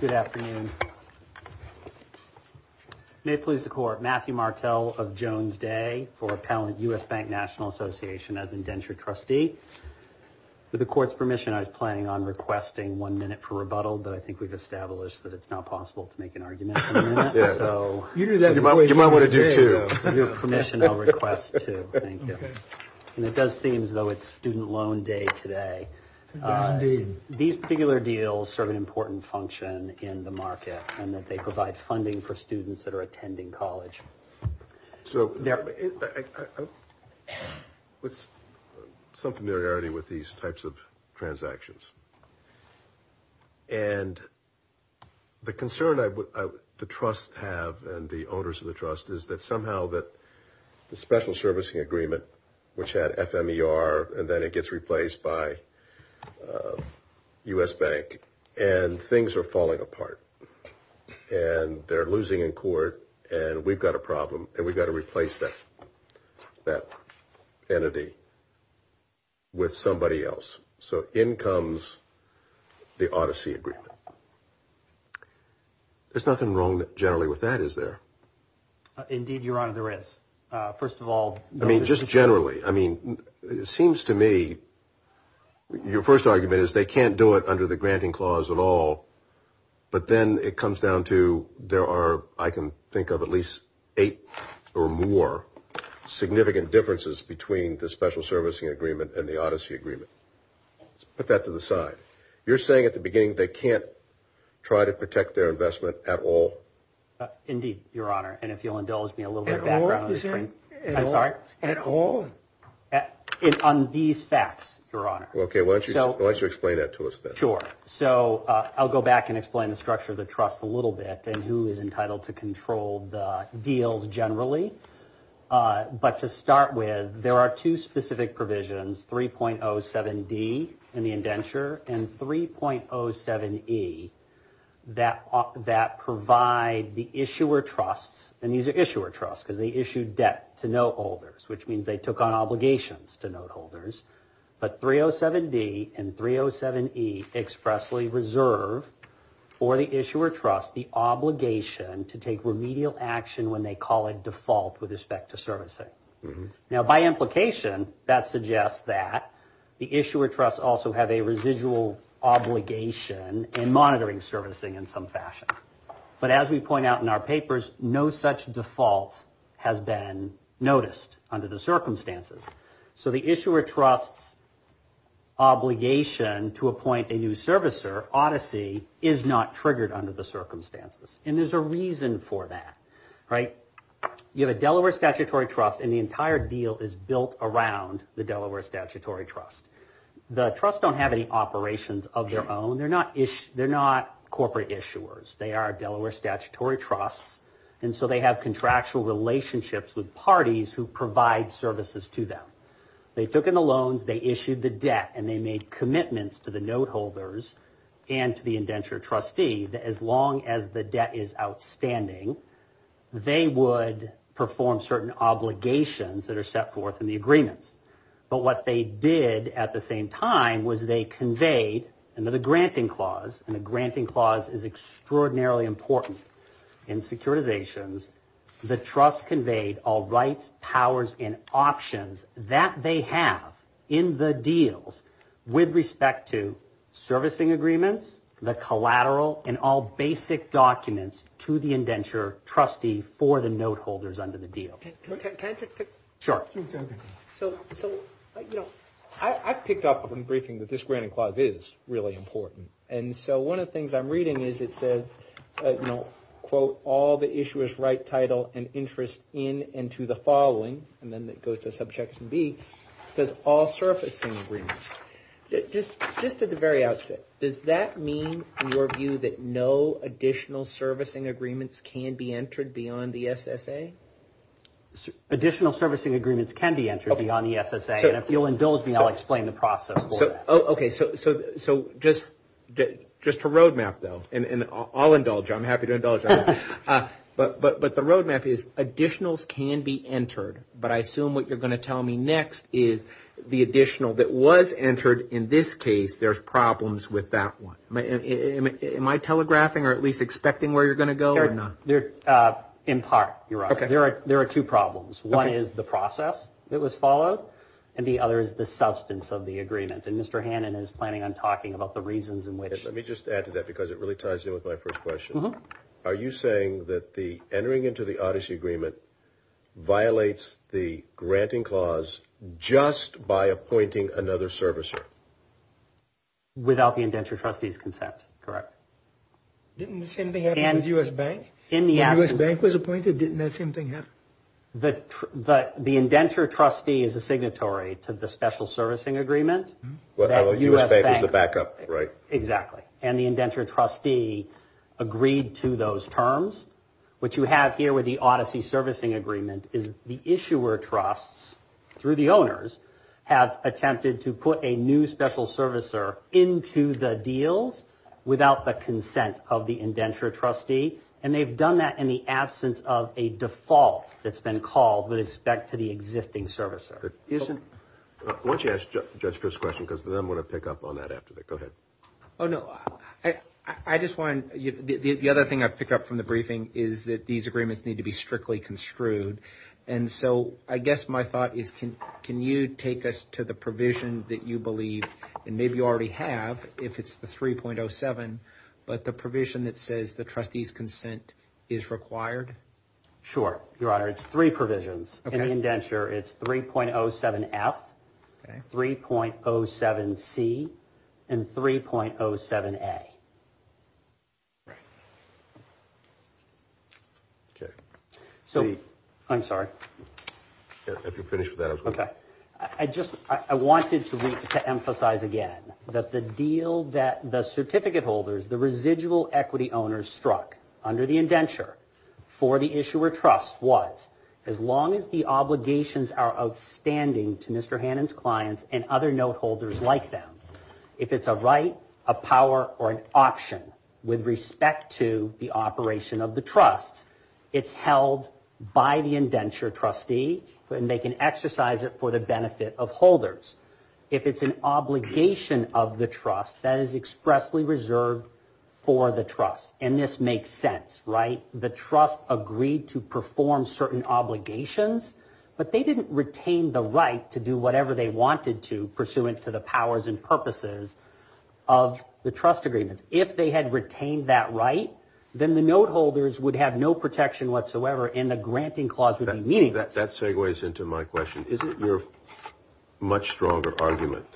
Good afternoon. May it please the Court, Matthew Martel of Jones Day for Appellant U.S. Bank National Association as Indentured Trustee. With the Court's permission, I was planning on requesting one minute for rebuttal, but I think we've established that it's not possible to make an argument for a minute. You might want to do two. With your permission, I'll request two. Thank you. It does seem as though it's student loan day today. These particular deals serve an important function in the market in that they provide funding for students that are attending college. So, with some familiarity with these types of transactions, and the concern the Trust have and the owners of the Trust is that somehow the special servicing agreement, which had FMER, and then it gets replaced by U.S. Bank, and things are falling apart, and they're losing in court, and we've got a problem, and we've got to replace that entity with somebody else. So, in comes the Odyssey Agreement. There's nothing wrong generally with that, is there? Indeed, Your Honor, there is. First of all, I mean, just generally, I mean, it seems to me your first argument is they can't do it under the granting clause at all, but then it comes down to there are, I can think of at least eight or more significant differences between the special servicing agreement and the Odyssey Agreement. Put that to the side. You're saying at the beginning they can't try to protect their investment at all? Indeed, Your Honor, and if you'll indulge me a little bit. At all? On these facts, Your Honor. Okay, why don't you explain that to us then. Sure. So, I'll go back and explain the structure of the Trust a little bit and who is entitled to control the deals generally. But to start with, there are two specific provisions, 3.07d in the indenture and 3.07e that provide the issuer trust, and these are issuer trusts because they issue debt to note holders, which means they took on obligations to note holders. But 3.07d and 3.07e expressly reserve for the issuer trust the obligation to take remedial action when they call it default with respect to servicing. Now, by implication, that suggests that the issuer trusts also have a residual obligation in monitoring servicing in some fashion. But as we point out in our papers, no such default has been noticed under the circumstances. So, the issuer trust obligation to appoint a new servicer, odyssey, is not triggered under the circumstances. And there's a reason for that, right? You have a Delaware Statutory Trust and the entire deal is built around the Delaware Statutory Trust. The trusts don't have any operations of their own. They're not corporate issuers. They are Delaware Statutory Trusts, and so they have contractual relationships with parties who provide services to them. They took in the loans, they issued the debt, and they made commitments to the note holders and to the indenture trustee that as long as the debt is outstanding, they would perform certain obligations that are set forth in the agreement. But what they did at the same time was they conveyed under the granting clause, and the granting clause is extraordinarily important in securitizations, the trust conveyed all rights, powers, and options that they have in the deals with respect to servicing agreements, the collateral, and all basic documents to the indenture trustee for the note holders under the deal. Sure. So, you know, I picked up from the briefing that this granting clause is really important, and so one of the things I'm reading is it says, you know, quote, all the issuers write title and interest in and to the following, and then it goes to Subjection B. It says all servicing agreements. Just at the very outset, does that mean, in your view, that no additional servicing agreements can be entered beyond the SSA? Additional servicing agreements can be entered beyond the SSA. And if you'll indulge me, I'll explain the process for that. Okay. So just a roadmap, though, and I'll indulge you. I'm happy to indulge you. But the roadmap is additionals can be entered, but I assume what you're going to tell me next is the additional that was entered. In this case, there's problems with that one. Am I telegraphing or at least expecting where you're going to go or not? In part, you're right. There are two problems. One is the process that was followed, and the other is the substance of the agreement. And Mr. Hannon is planning on talking about the reasons in which. Let me just add to that because it really ties in with my first question. Are you saying that the entering into the Odyssey Agreement violates the granting clause just by appointing another servicer? Without the indentured trustee's consent, correct. Didn't the same thing happen with the U.S. Bank? When the U.S. Bank was appointed, didn't that same thing happen? The indentured trustee is a signatory to the Special Servicing Agreement. The U.S. Bank was a backup, right. Exactly. And the indentured trustee agreed to those terms. What you have here with the Odyssey Servicing Agreement is the issuer trusts, through the owners, have attempted to put a new special servicer into the deal without the consent of the indentured trustee. And they've done that in the absence of a default that's been called with respect to the existing servicer. Why don't you ask Jessica's question because then I'm going to pick up on that after that. Go ahead. Oh, no. I just wanted – the other thing I picked up from the briefing is that these agreements need to be strictly construed. And so I guess my thought is can you take us to the provision that you believe, and maybe you already have, if it's the 3.07, but the provision that says the trustee's consent is required? Sure, Your Honor. It's three provisions. In the indenture, it's 3.07F, 3.07C, and 3.07A. Right. Okay. So – I'm sorry. If you're finished with that, I was going to – Okay. I just – I wanted to emphasize again that the deal that the certificate holders, the residual equity owners struck under the indenture for the issuer trust was, as long as the obligations are outstanding to Mr. Hannan's clients and other note holders like them, if it's a right, a power, or an option with respect to the operation of the trust, it's held by the indenture trustee, and they can exercise it for the benefit of holders. If it's an obligation of the trust, that is expressly reserved for the trust. And this makes sense, right? The trust agreed to perform certain obligations, but they didn't retain the right to do whatever they wanted to, pursuant to the powers and purposes of the trust agreement. If they had retained that right, then the note holders would have no protection whatsoever, and the granting clause would be meaningless. That segues into my question. Isn't your much stronger argument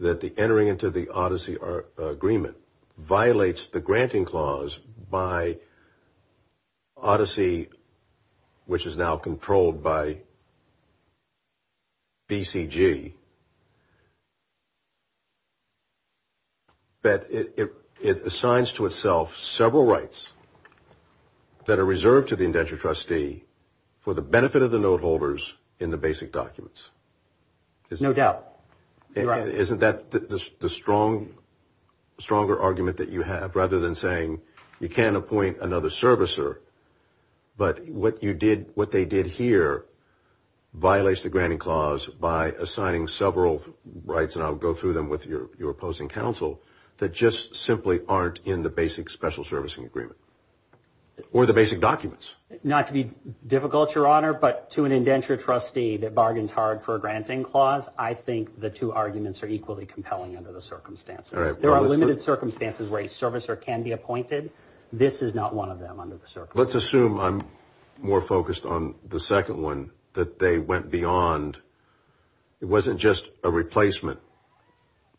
that the entering into the Odyssey agreement violates the granting clause by Odyssey, which is now controlled by BCG, that it assigns to itself several rights that are reserved to the indenture trustee for the benefit of the note holders in the basic documents? No doubt. Isn't that the stronger argument that you have, rather than saying you can't appoint another servicer, but what they did here violates the granting clause by assigning several rights, and I'll go through them with your opposing counsel, that just simply aren't in the basic special servicing agreement, or the basic documents? Not to be difficult, Your Honor, but to an indenture trustee that bargains hard for a granting clause, I think the two arguments are equally compelling under the circumstances. There are limited circumstances where a servicer can be appointed. This is not one of them under the circumstances. Let's assume I'm more focused on the second one, that they went beyond. It wasn't just a replacement.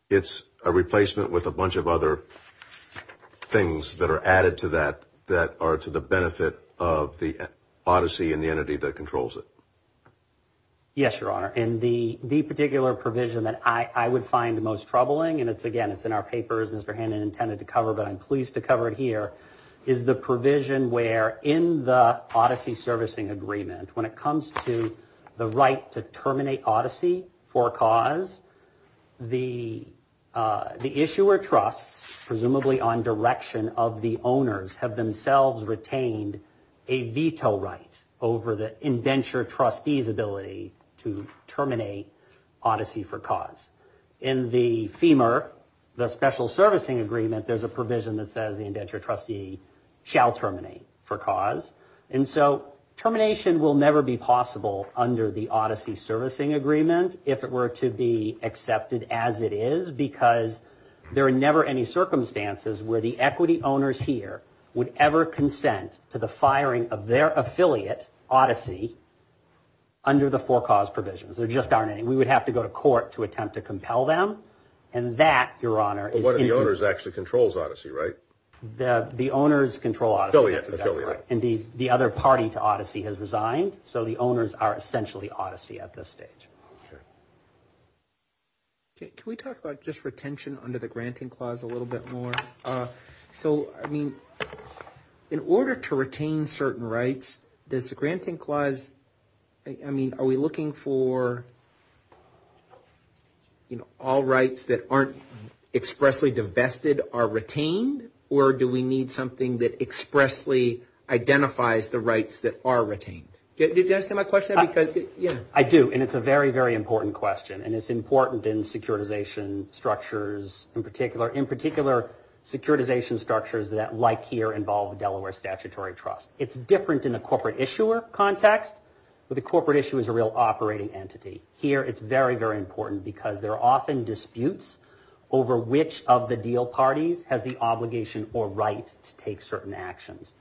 It's a replacement with a bunch of other things that are added to that that are to the benefit of the odyssey and the entity that controls it. Yes, Your Honor, and the particular provision that I would find the most troubling, and again, it's in our papers, Mr. Hannon intended to cover, but I'm pleased to cover it here, is the provision where in the odyssey servicing agreement, when it comes to the right to terminate odyssey for a cause, the issuer trusts, presumably on direction of the owners, have themselves retained a veto right over the indenture trustee's ability to terminate odyssey for cause. In the FEMA, the special servicing agreement, there's a provision that says the indenture trustee shall terminate for cause, and so termination will never be possible under the odyssey servicing agreement if it were to be accepted as it is, because there are never any circumstances where the equity owners here would ever consent to the firing of their affiliate, odyssey, under the for cause provisions. There just aren't any. We would have to go to court to attempt to compel them, and that, Your Honor, is... One of the owners actually controls odyssey, right? The owners control odyssey. Affiliate, affiliate. And the other party to odyssey has resigned, so the owners are essentially odyssey at this stage. Sure. Can we talk about just retention under the granting clause a little bit more? So, I mean, in order to retain certain rights, does the granting clause... I mean, are we looking for, you know, all rights that aren't expressly divested are retained, or do we need something that expressly identifies the rights that are retained? Did you answer my question? I do, and it's a very, very important question, and it's important in securitization structures, in particular securitization structures that, like here, involve Delaware Statutory Trust. It's different in a corporate issuer context, but the corporate issuer is a real operating entity. Here it's very, very important because there are often disputes over which of the deal parties has the obligation or right to take certain actions.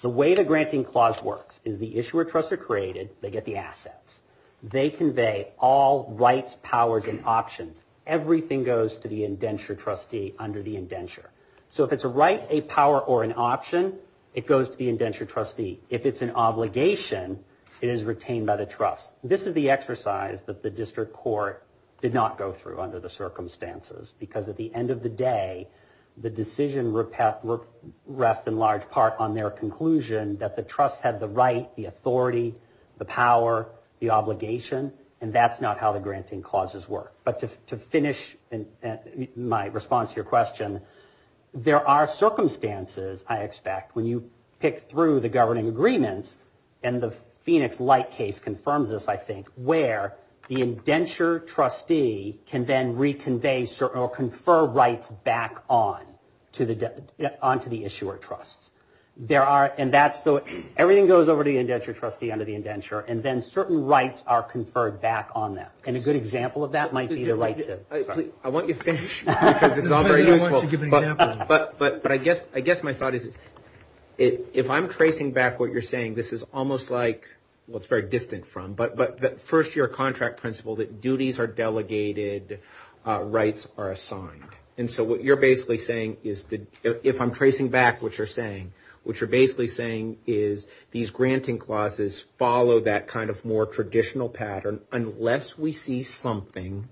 The way the granting clause works is the issuer trusts are created. They get the assets. They convey all rights, powers, and options. Everything goes to the indenture trustee under the indenture. So if it's a right, a power, or an option, it goes to the indenture trustee. If it's an obligation, it is retained by the trust. This is the exercise that the district court did not go through under the circumstances because at the end of the day, the decision rests in large part on their conclusion that the trust had the right, the authority, the power, the obligation, and that's not how the granting clauses work. But to finish my response to your question, there are circumstances, I expect, when you pick through the governing agreements and the Phoenix Light case confirms this, I think, where the indenture trustee can then reconvey or confer rights back on to the issuer trust. Everything goes over to the indenture trustee under the indenture and then certain rights are conferred back on them. And a good example of that might be the right to... I want you to finish because it's all very useful. But I guess my thought is if I'm tracing back what you're saying, this is almost like what's very distant from, but first your contract principle that duties are delegated, rights are assigned. And so what you're basically saying is if I'm tracing back what you're saying, what you're basically saying is these granting clauses follow that kind of more traditional pattern unless we see something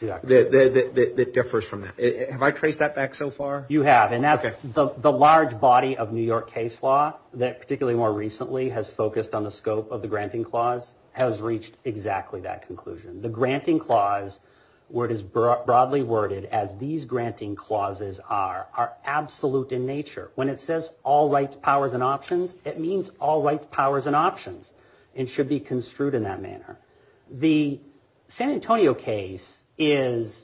that differs from that. Have I traced that back so far? You have. And that's the large body of New York case law that particularly more recently has focused on the scope of the granting clause has reached exactly that conclusion. The granting clause, where it is broadly worded as these granting clauses are, are absolute in nature. When it says all rights, powers, and options, it means all rights, powers, and options. It should be construed in that manner. The San Antonio case reaches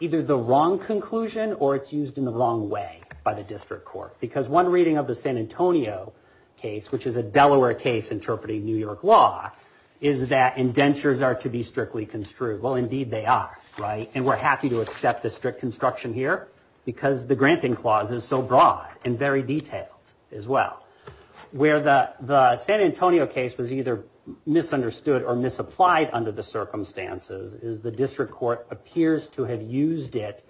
either the wrong conclusion or it's used in the wrong way by the district court. Because one reading of the San Antonio case, which is a Delaware case interpreting New York law, is that indentures are to be strictly construed. Well, indeed they are, right? And we're happy to accept the strict construction here because the granting clause is so broad and very detailed as well. Where the San Antonio case was either misunderstood or misapplied under the circumstances is the district court appears to have used it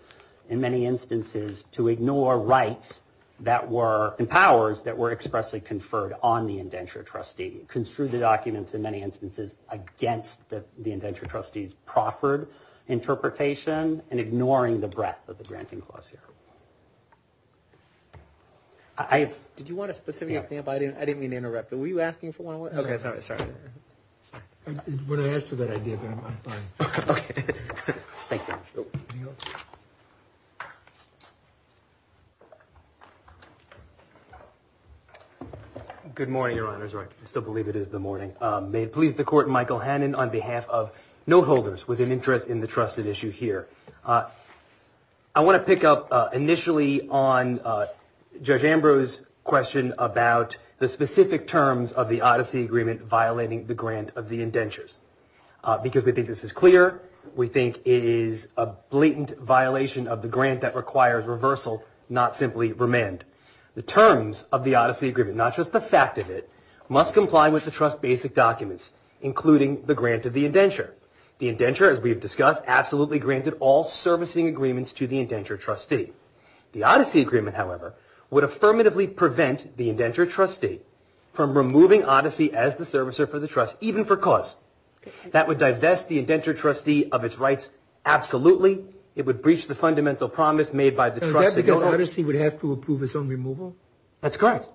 in many instances to ignore rights and powers that were expressly conferred on the indenture trustee, construed the documents in many instances against the indenture trustee's proffered interpretation and ignoring the breadth of the granting clause here. Did you want a specific example? I didn't mean to interrupt you. Were you asking for one? Okay. Sorry. It's what I asked for that idea. Okay. Thank you. Good morning, Your Honors. I still believe it is the morning. May it please the Court, Michael Hannan on behalf of note holders with an interest in the trusted issues here. I want to pick up initially on Judge Ambrose's question about the specific terms of the Odyssey Agreement violating the grant of the indentures. Because we think this is clear, we think it is a blatant violation of the grant that requires reversal, not simply remand. The terms of the Odyssey Agreement, not just the fact of it, must comply with the trust basic documents, including the grant of the indenture. The indenture, as we have discussed, absolutely granted all servicing agreements to the indenture trustee. The Odyssey Agreement, however, would affirmatively prevent the indenture trustee from removing Odyssey as the servicer for the trust, even for cost. That would divest the indenture trustee of its rights absolutely. It would breach the fundamental promise made by the trustee. The Odyssey would have to approve its own removal? That's correct.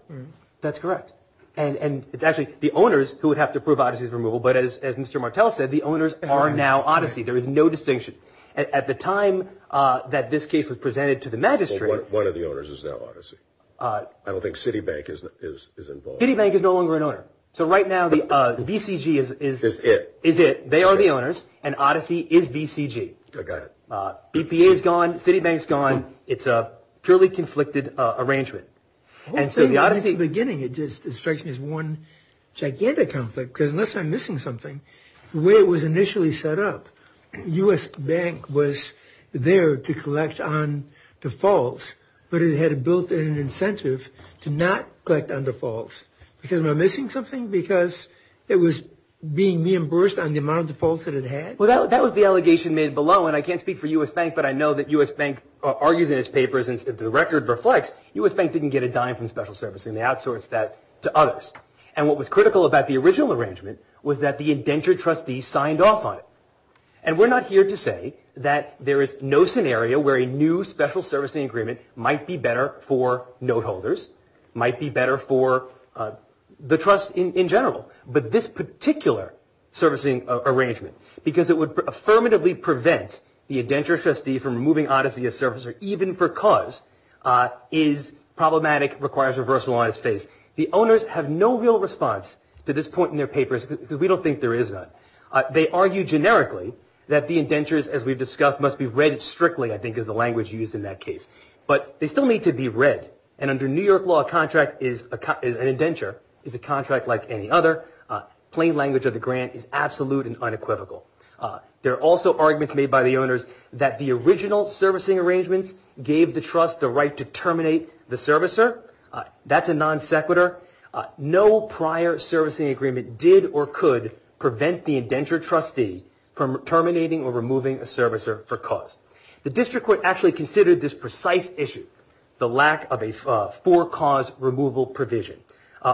That's correct. And it's actually the owners who would have to approve Odyssey's removal, but as Mr. Martel said, the owners are now Odyssey. There is no distinction. At the time that this case was presented to the magistrate… One of the owners is now Odyssey. I don't think Citibank is involved. Citibank is no longer an owner. So right now the VCG is it. They are the owners and Odyssey is VCG. I got it. BPA is gone, Citibank is gone. It's a purely conflicted arrangement. And so the Odyssey… From the beginning, it strikes me as one gigantic conflict because unless I'm missing something, the way it was initially set up, U.S. Bank was there to collect on defaults, but it had a built-in incentive to not collect on defaults. Because am I missing something? Because it was being reimbursed on the amount of defaults that it had? Well, that was the allegation made below, and I can't speak for U.S. Bank, but I know that U.S. Bank argues in its papers, and the record reflects, U.S. Bank didn't get a dime from special services, and they outsourced that to others. And what was critical about the original arrangement was that the indentured trustee signed off on it. And we're not here to say that there is no scenario where a new special servicing agreement might be better for note holders, might be better for the trust in general, but this particular servicing arrangement, because it would affirmatively prevent the indentured trustee from removing Odyssey as servicer, even because is problematic, requires reversal on its face. The owners have no real response to this point in their papers, because we don't think there is one. They argue generically that the indentures, as we've discussed, must be read strictly, I think, is the language used in that case. But they still need to be read. And under New York law, a contract is, an indenture, is a contract like any other. Plain language of the grant is absolute and unequivocal. There are also arguments made by the owners that the original servicing arrangement gave the trust the right to terminate the servicer. However, that's a non sequitur. No prior servicing agreement did or could prevent the indentured trustee from terminating or removing a servicer for cause. The district court actually considered this precise issue, the lack of a for-cause removal provision. I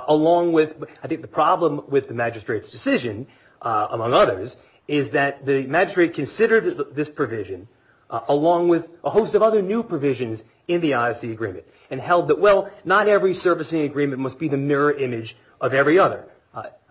think the problem with the magistrate's decision, among others, is that the magistrate considered this provision along with a host of other new provisions in the Odyssey agreement and held that, well, not every servicing agreement must be the mirror image of every other.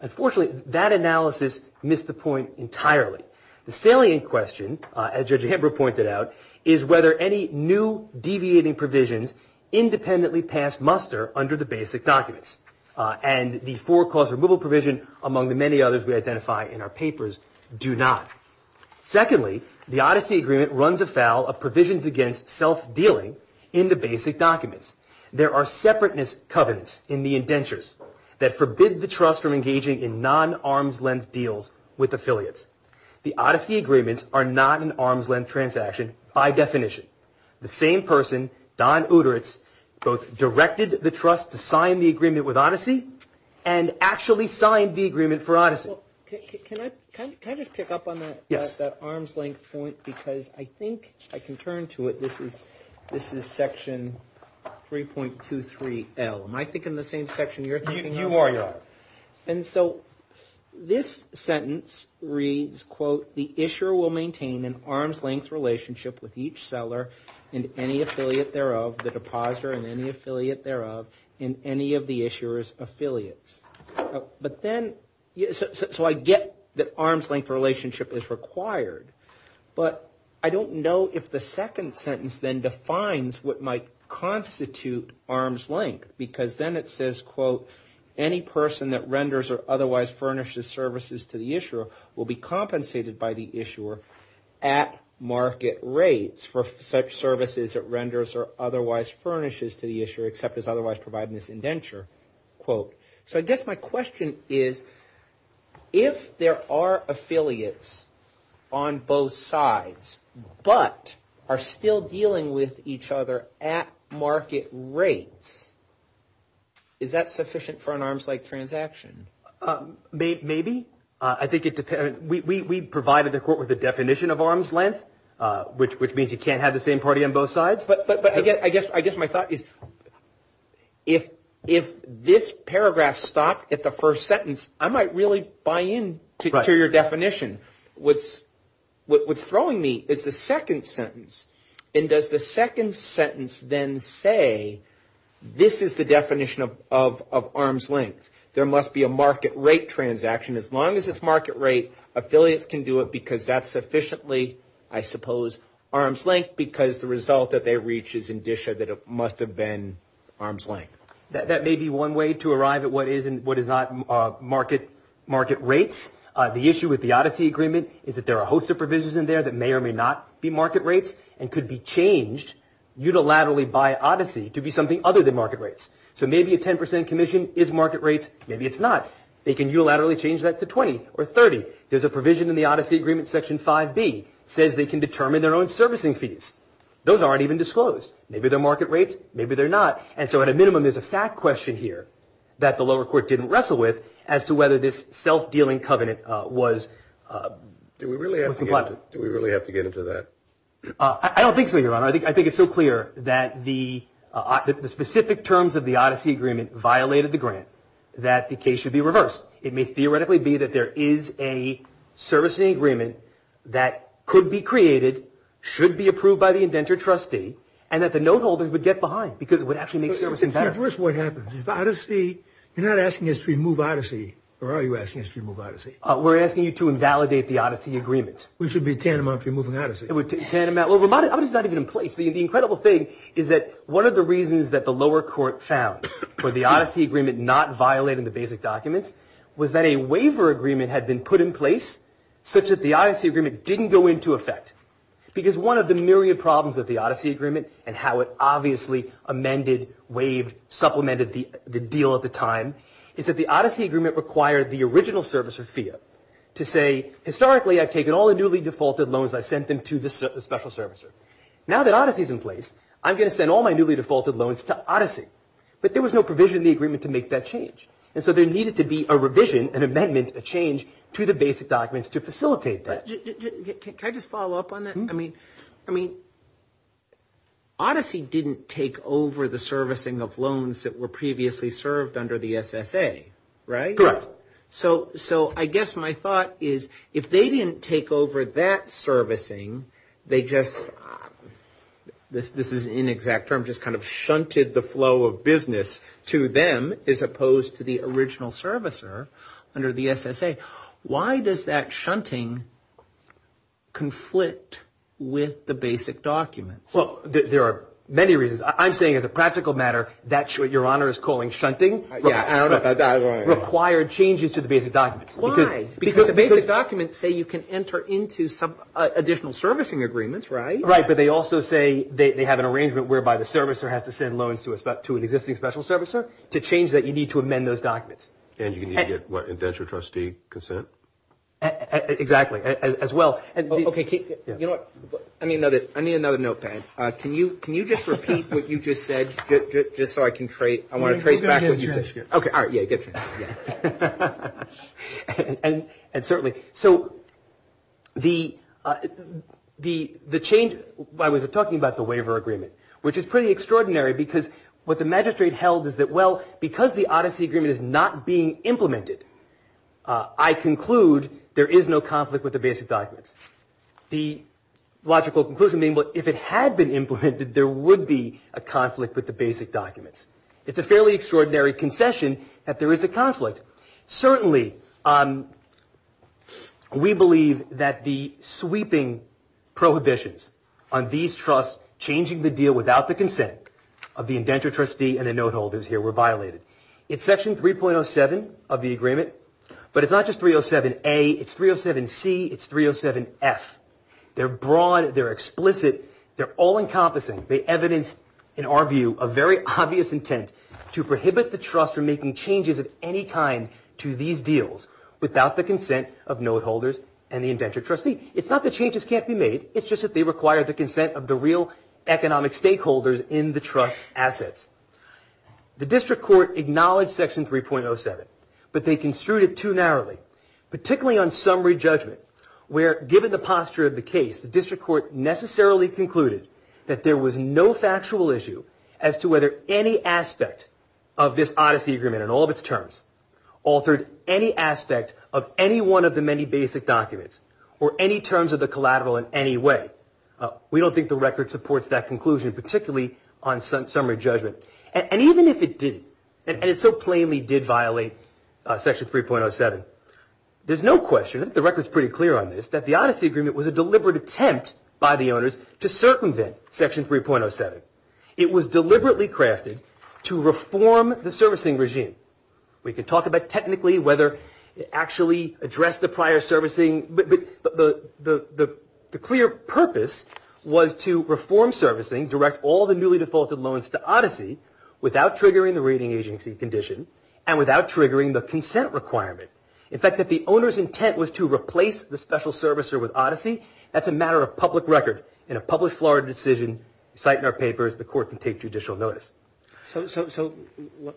Unfortunately, that analysis missed the point entirely. The salient question, as Judge Amber pointed out, is whether any new deviating provisions independently pass muster under the basic documents. And the for-cause removal provision, among the many others we identify in our papers, do not. Secondly, the Odyssey agreement runs afoul of provisions against self-dealing in the basic documents. There are separateness covenants in the indentures that forbid the trust from engaging in non-arm's-length deals with affiliates. The Odyssey agreements are not an arm's-length transaction by definition. The same person, Don Uteritz, both directed the trust to sign the agreement with Odyssey and actually signed the agreement for Odyssey. Can I just pick up on that arm's-length point? Because I think I can turn to it. This is section 3.23L. Am I thinking the same section you are? You are, you are. And so this sentence reads, quote, the issuer will maintain an arm's-length relationship with each seller and any affiliate thereof, the depositor and any affiliate thereof, and any of the issuer's affiliates. So I get that arm's-length relationship is required. But I don't know if the second sentence then defines what might constitute arm's-length, because then it says, quote, any person that renders or otherwise furnishes services to the issuer will be compensated by the issuer at market rates for such services that renders or otherwise furnishes to the issuer except as otherwise provided in this indenture, quote. So I guess my question is, if there are affiliates on both sides but are still dealing with each other at market rates, is that sufficient for an arms-length transaction? Maybe. We provided the court with a definition of arm's-length, which means you can't have the same party on both sides. But again, I guess my thought is if this paragraph stopped at the first sentence, I might really buy in to your definition. What's throwing me is the second sentence. And does the second sentence then say, this is the definition of arm's-length. There must be a market rate transaction. As long as it's market rate, affiliates can do it because that's sufficiently, I suppose, arm's-length because the result that they reach is indicia that it must have been arm's-length. That may be one way to arrive at what is and what is not market rates. The issue with the Odyssey Agreement is that there are a host of provisions in there that may or may not be market rates and could be changed unilaterally by Odyssey to be something other than market rates. So maybe a 10% commission is market rates. Maybe it's not. They can unilaterally change that to 20 or 30. There's a provision in the Odyssey Agreement, Section 5B, that says they can determine their own servicing fees. Those aren't even disclosed. Maybe they're market rates. Maybe they're not. And so at a minimum there's a fact question here that the lower court didn't wrestle with as to whether this self-dealing covenant was compliant. Do we really have to get into that? I don't think so, Your Honor. I think it's so clear that the specific terms of the Odyssey Agreement violated the grant that the case should be reversed. It may theoretically be that there is a servicing agreement that could be created, should be approved by the indentured trustee, and that the note holders would get behind because it would actually make servicing better. But first, what happens? Odyssey, you're not asking us to remove Odyssey, or are you asking us to remove Odyssey? We're asking you to invalidate the Odyssey Agreement. We should be tantamount to removing Odyssey. Well, it's not even in place. The incredible thing is that one of the reasons that the lower court found for the Odyssey Agreement not violating the basic documents was that a waiver agreement had been put in place such that the Odyssey Agreement didn't go into effect. Because one of the myriad problems with the Odyssey Agreement and how it obviously amended, waived, supplemented the deal at the time is that the Odyssey Agreement required the original servicer, FEA, to say historically I've taken all the newly defaulted loans and I've sent them to the special servicer. Now that Odyssey is in place, I'm going to send all my newly defaulted loans to Odyssey. But there was no provision in the agreement to make that change. And so there needed to be a revision, an amendment, a change to the basic documents to facilitate that. Can I just follow up on that? I mean, Odyssey didn't take over the servicing of loans that were previously served under the SSA, right? Correct. So I guess my thought is if they didn't take over that servicing, they just, this is an inexact term, just kind of shunted the flow of business to them as opposed to the original servicer under the SSA. Why does that shunting conflict with the basic documents? Well, there are many reasons. I'm saying as a practical matter that's what Your Honor is calling shunting. I don't know. Required changes to the basic documents. Why? Because the basic documents say you can enter into some additional servicing agreements, right? Right, but they also say they have an arrangement whereby the servicer has to send loans to an existing special servicer to change that you need to amend those documents. And you need to get, what, a venture trustee consent? Exactly, as well. Okay, you know what? I need another notepad. Can you just repeat what you just said just so I can trace back what you said? Okay, all right, yeah, get your notepad. And certainly, so the change, I was talking about the waiver agreement, which is pretty extraordinary because what the magistrate held is that, well, because the odyssey agreement is not being implemented, I conclude there is no conflict with the basic documents. The logical conclusion being that if it had been implemented, there would be a conflict with the basic documents. It's a fairly extraordinary concession that there is a conflict. Certainly, we believe that the sweeping prohibitions on these trusts without the consent of the venture trustee and the note holders here were violated. It's section 3.07 of the agreement, but it's not just 307A. It's 307C. It's 307S. They're broad. They're explicit. They're all-encompassing. They evidence, in our view, a very obvious intent to prohibit the trust from making changes of any kind to these deals without the consent of note holders and the venture trustee. It's not that changes can't be made. It's just that they require the consent of the real economic stakeholders in the trust assets. The district court acknowledged section 3.07, but they construed it too narrowly, particularly on summary judgment where, given the posture of the case, the district court necessarily concluded that there was no factual issue as to whether any aspect of this odyssey agreement in all of its terms altered any aspect of any one of the many basic documents or any terms of the collateral in any way. We don't think the record supports that conclusion, particularly on summary judgment. And even if it did, and it so plainly did violate section 3.07, there's no question, the record's pretty clear on this, that the odyssey agreement was a deliberate attempt by the owners to circumvent section 3.07. It was deliberately crafted to reform the servicing regime. We could talk about technically whether it actually addressed the prior servicing, but the clear purpose was to reform servicing, direct all the newly defaulted loans to odyssey, without triggering the rating agency condition and without triggering the consent requirement. In fact, if the owner's intent was to replace the special servicer with odyssey, that's a matter of public record. In a published Florida decision, the court can take judicial notice. So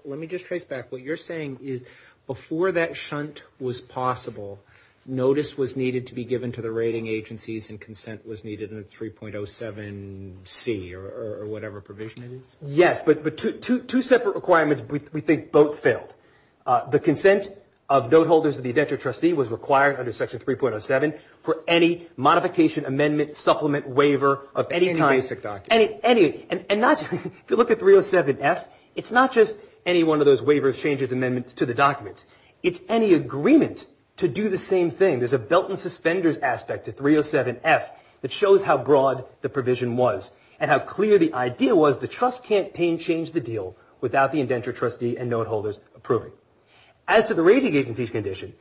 let me just trace back. What you're saying is before that shunt was possible, notice was needed to be given to the rating agencies and consent was needed in 3.07C or whatever provision it is? Yes, but two separate requirements we think both failed. The consent of note holders of the indentured trustee was required under section 3.07 for any modification, amendment, supplement, waiver of any time. Any basic document. Any. And not just, if you look at 307F, it's not just any one of those waivers, changes, amendments to the documents. It's any agreement to do the same thing. There's a belt and suspenders aspect to 307F that shows how broad the provision was and how clear the idea was the trust campaign changed the deal without the indentured trustee and note holders approving. As to the rating agency's condition,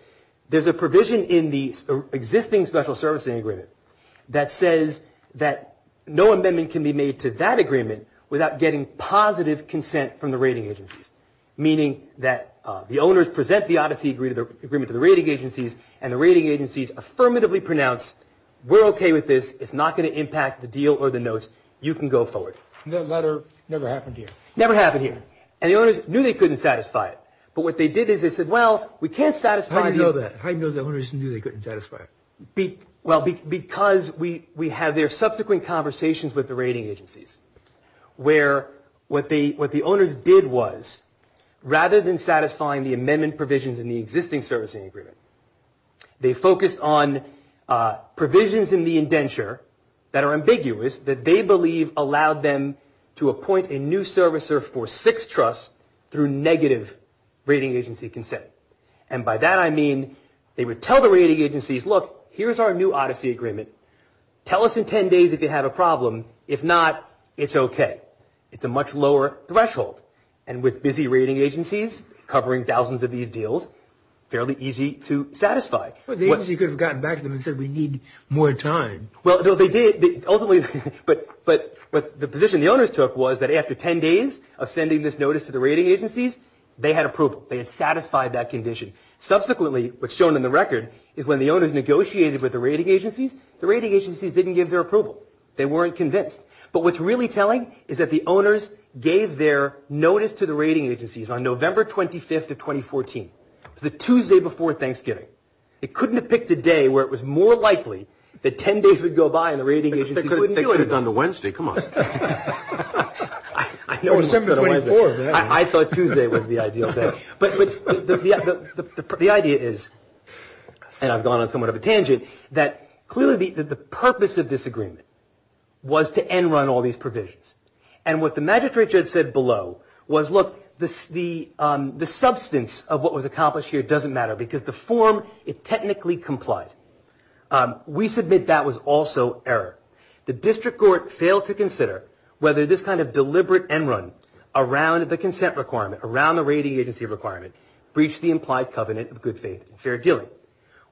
there's a provision in the existing special servicing agreement that says that no amendment can be made to that agreement without getting positive consent from the rating agency. Meaning that the owners present the Odyssey agreement to the rating agencies and the rating agencies affirmatively pronounce, we're okay with this. It's not going to impact the deal or the notes. You can go forward. That letter never happened here. Never happened here. And the owners knew they couldn't satisfy it. But what they did is they said, well, we can't satisfy it. How do you know that? How do you know the owners knew they couldn't satisfy it? Well, because we had their subsequent conversations with the rating agencies where what the owners did was rather than satisfying the amendment provisions in the existing servicing agreement, they focused on provisions in the indenture that are ambiguous that they believe allowed them to appoint a new servicer for six trusts through negative rating agency consent. And by that I mean they would tell the rating agencies, look, here's our new Odyssey agreement. Tell us in 10 days if you have a problem. If not, it's okay. It's a much lower threshold. And with busy rating agencies covering thousands of these deals, fairly easy to satisfy. But the agency could have gotten back to them and said, we need more time. Well, they did. But the position the owners took was that after 10 days of sending this notice to the rating agencies, they had approval. They had satisfied that condition. Subsequently, what's shown in the record is when the owners negotiated with the rating agencies, the rating agencies didn't give their approval. They weren't convinced. But what's really telling is that the owners gave their notice to the rating agencies on November 25th of 2014, the Tuesday before Thanksgiving. They couldn't have picked a day where it was more likely that 10 days would go by and the rating agencies wouldn't do it. They could have picked it on the Wednesday. Come on. I thought Tuesday would be the ideal day. But the idea is, and I've gone on somewhat of a tangent, that clearly the purpose of this agreement was to end run all these provisions. And what the magistrate judge said below was, look, the substance of what was accomplished here doesn't matter because the form, it technically complies. We submit that was also error. The district court failed to consider whether this kind of deliberate end run around the consent requirement, around the rating agency requirement, breached the implied covenant of good faith and fair dealing.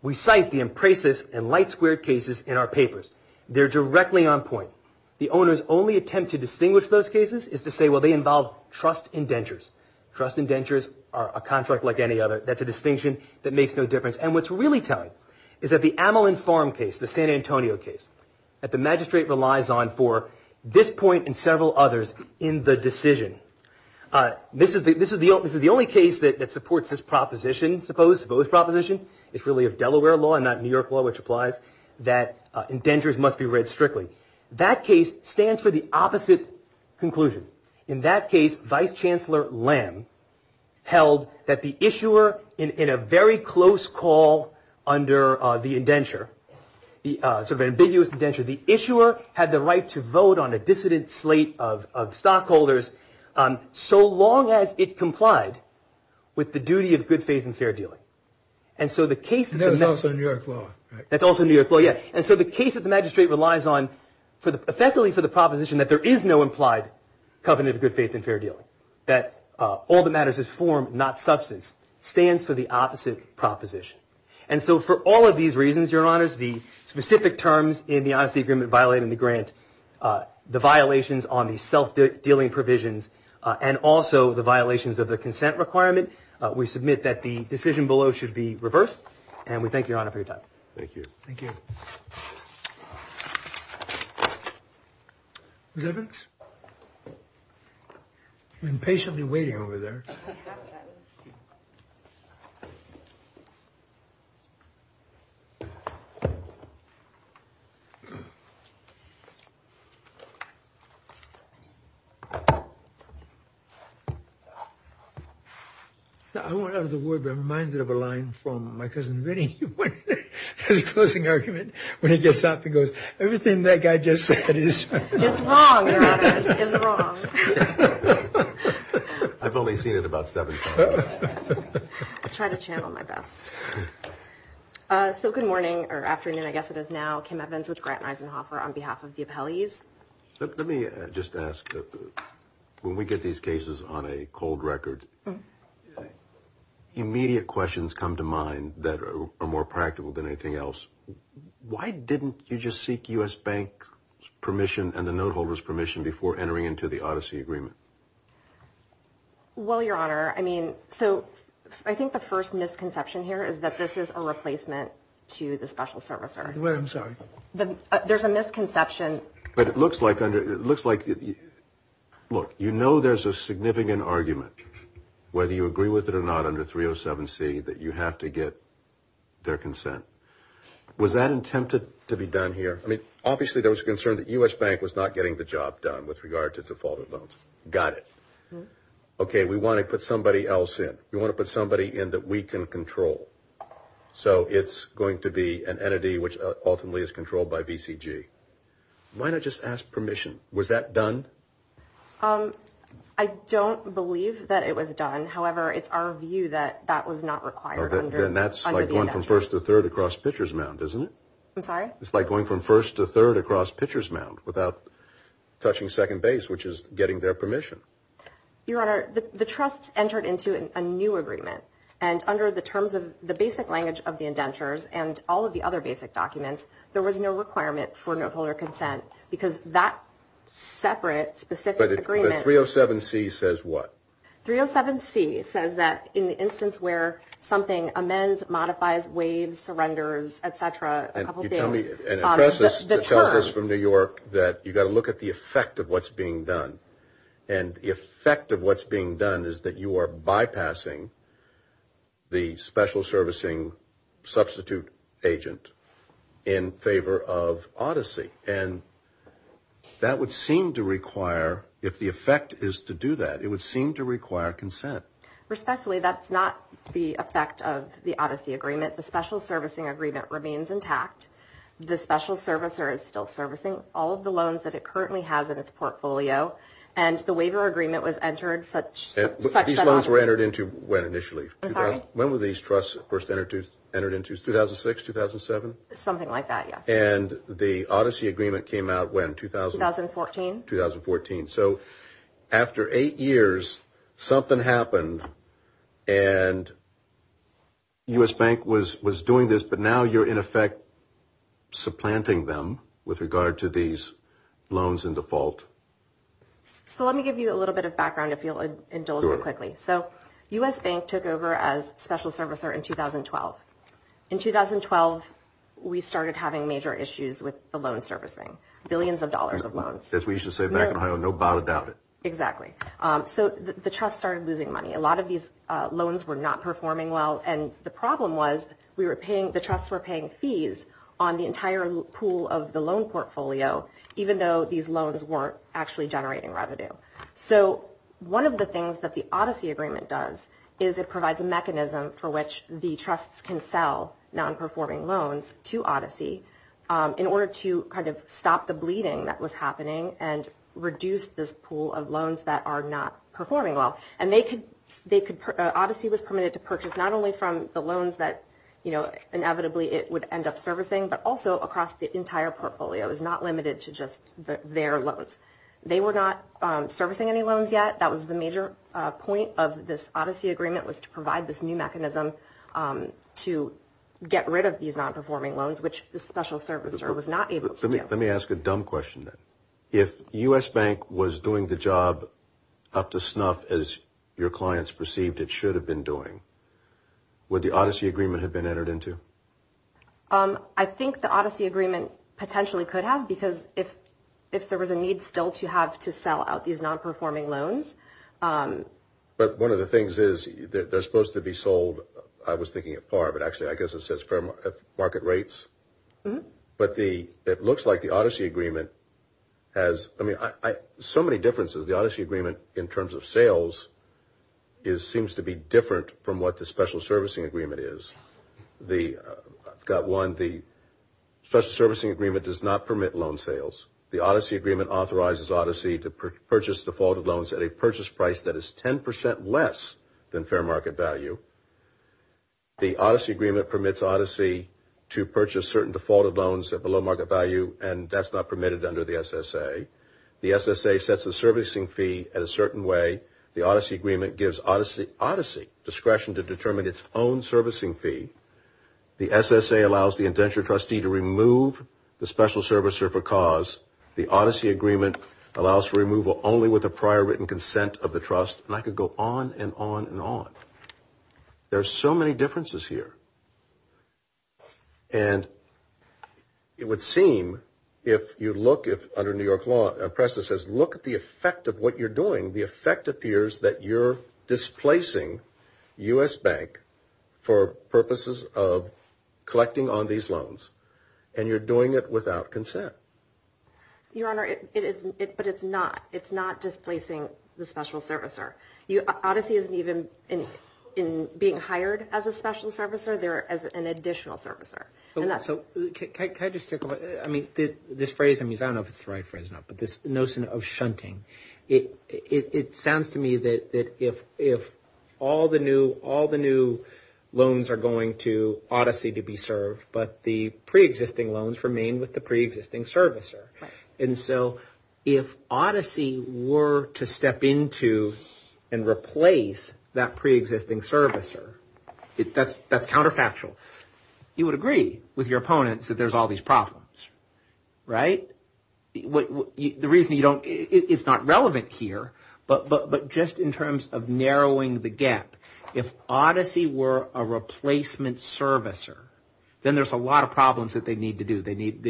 We cite the Emprasis and Light Square cases in our papers. They're directly on point. The owners only attempt to distinguish those cases is to say, well, they involve trust indentures. Trust indentures are a contract like any other. That's a distinction that makes no difference. And what's really telling is that the Amelin Farm case, the San Antonio case, that the magistrate relies on for this point and several others in the decision. This is the only case that supports this proposition, suppose, proposition. It's really a Delaware law and not New York law, which implies that indentures must be read strictly. That case stands for the opposite conclusion. In that case, Vice Chancellor Lamb held that the issuer in a very close call under the indenture, sort of an ambiguous indenture, the issuer had the right to vote on a dissident slate of stockholders so long as it complied with the duty of good faith and fair dealing. That's also New York law. That's also New York law, yes. And so the case that the magistrate relies on effectively for the proposition that there is no implied covenant of good faith and fair dealing, that all that matters is form, not substance, stands for the opposite proposition. And so for all of these reasons, Your Honors, the specific terms in the honesty agreement violating the grant, the violations on the self-dealing provisions, and also the violations of the consent requirement, we submit that the decision below should be reversed, and we thank Your Honor for your time. Thank you. Thank you. Okay. I've been patiently waiting over there. I want to have the word reminded of a line from my cousin Vinnie. His closing argument when he gets up and goes, everything that guy just said is wrong. It's wrong, Your Honor. It's wrong. I've only seen it about seven times. I try to channel my best. So good morning, or afternoon, I guess it is now, Kim Evans with Grant Reisenhofer on behalf of the appellees. Let me just ask, when we get these cases on a cold record, immediate questions come to mind that are more practical than anything else. Why didn't you just seek U.S. Bank permission and the note holder's permission before entering into the odyssey agreement? Well, Your Honor, I mean, so I think the first misconception here is that this is a replacement to the special servicer. I'm sorry. There's a misconception. But it looks like under, it looks like, look, you know there's a significant argument, whether you agree with it or not, under 307C, that you have to get their consent. Was that intended to be done here? I mean, obviously there was concern that U.S. Bank was not getting the job done with regard to defaulted loans. Got it. Okay, we want to put somebody else in. We want to put somebody in that we can control. So it's going to be an entity which ultimately is controlled by VCG. Why not just ask permission? Was that done? I don't believe that it was done. However, it's our view that that was not required under the indenture. Then that's like going from first to third across pitcher's mound, isn't it? I'm sorry? It's like going from first to third across pitcher's mound without touching second base, which is getting their permission. Your Honor, the trust entered into a new agreement, and under the terms of the basic language of the indentures and all of the other basic documents, there was no requirement for note holder consent because that separate specific agreement – But 307C says what? 307C says that in the instance where something amends, modifies, waives, surrenders, et cetera, a couple things – And you tell me – The term – And the press has told us from New York that you've got to look at the effect of what's being done. And the effect of what's being done is that you are bypassing the special servicing substitute agent in favor of Odyssey. And that would seem to require – If the effect is to do that, it would seem to require consent. Respectfully, that's not the effect of the Odyssey agreement. The special servicing agreement remains intact. The special servicer is still servicing all of the loans that it currently has in its portfolio. And the waiver agreement was entered such that – These loans were entered into when initially? I'm sorry? When were these trusts first entered into? 2006, 2007? Something like that, yes. And the Odyssey agreement came out when, 2000? 2014. 2014. So after eight years, something happened and U.S. Bank was doing this, but now you're in effect supplanting them with regard to these loans in default. So let me give you a little bit of background if you'll indulge me quickly. So U.S. Bank took over as special servicer in 2012. In 2012, we started having major issues with the loan servicing. Billions of dollars of loans. As we used to say back in Ohio, no doubt about it. Exactly. So the trusts started losing money. A lot of these loans were not performing well, and the problem was the trusts were paying fees on the entire pool of the loan portfolio, even though these loans weren't actually generating revenue. So one of the things that the Odyssey agreement does is it provides a mechanism for which the trusts can sell non-performing loans to Odyssey in order to kind of stop the bleeding that was happening and reduce this pool of loans that are not performing well. Odyssey was permitted to purchase not only from the loans that inevitably it would end up servicing, but also across the entire portfolio. It was not limited to just their loans. They were not servicing any loans yet. That was the major point of this Odyssey agreement, was to provide this new mechanism to get rid of these non-performing loans, which the special servicer was not able to do. Let me ask a dumb question then. If U.S. Bank was doing the job up to snuff, as your clients perceived it should have been doing, would the Odyssey agreement have been entered into? I think the Odyssey agreement potentially could have, because if there was a need still to have to sell out these non-performing loans. But one of the things is that they're supposed to be sold, I was thinking at par, but actually I guess it says market rates. But it looks like the Odyssey agreement has – I mean, so many differences, the Odyssey agreement in terms of sales seems to be different from what the special servicing agreement is. I've got one. The special servicing agreement does not permit loan sales. The Odyssey agreement authorizes Odyssey to purchase defaulted loans at a purchase price that is 10% less than fair market value. The Odyssey agreement permits Odyssey to purchase certain defaulted loans at below market value, and that's not permitted under the SSA. The SSA sets a servicing fee at a certain way. The Odyssey agreement gives Odyssey discretion to determine its own servicing fee. The SSA allows the indentured trustee to remove the special servicer for cause. The Odyssey agreement allows for removal only with a prior written consent of the trust. And I could go on and on and on. There are so many differences here. And it would seem if you look at – under New York law, a precedent says look at the effect of what you're doing. The effect appears that you're displacing U.S. Bank for purposes of collecting on these loans, and you're doing it without consent. Your Honor, it is – but it's not. It's not displacing the special servicer. Odyssey isn't even in being hired as a special servicer. They're as an additional servicer. So can I just – I mean, this phrase – I don't know if it's the right phrase or not, but this notion of shunting. It sounds to me that if all the new loans are going to Odyssey to be served, but the preexisting loans remain with the preexisting servicer. And so if Odyssey were to step into and replace that preexisting servicer, that's counterfactual. You would agree with your opponents that there's all these problems, right? The reason you don't – it's not relevant here, but just in terms of narrowing the gap. If Odyssey were a replacement servicer, then there's a lot of problems that they need to do. They need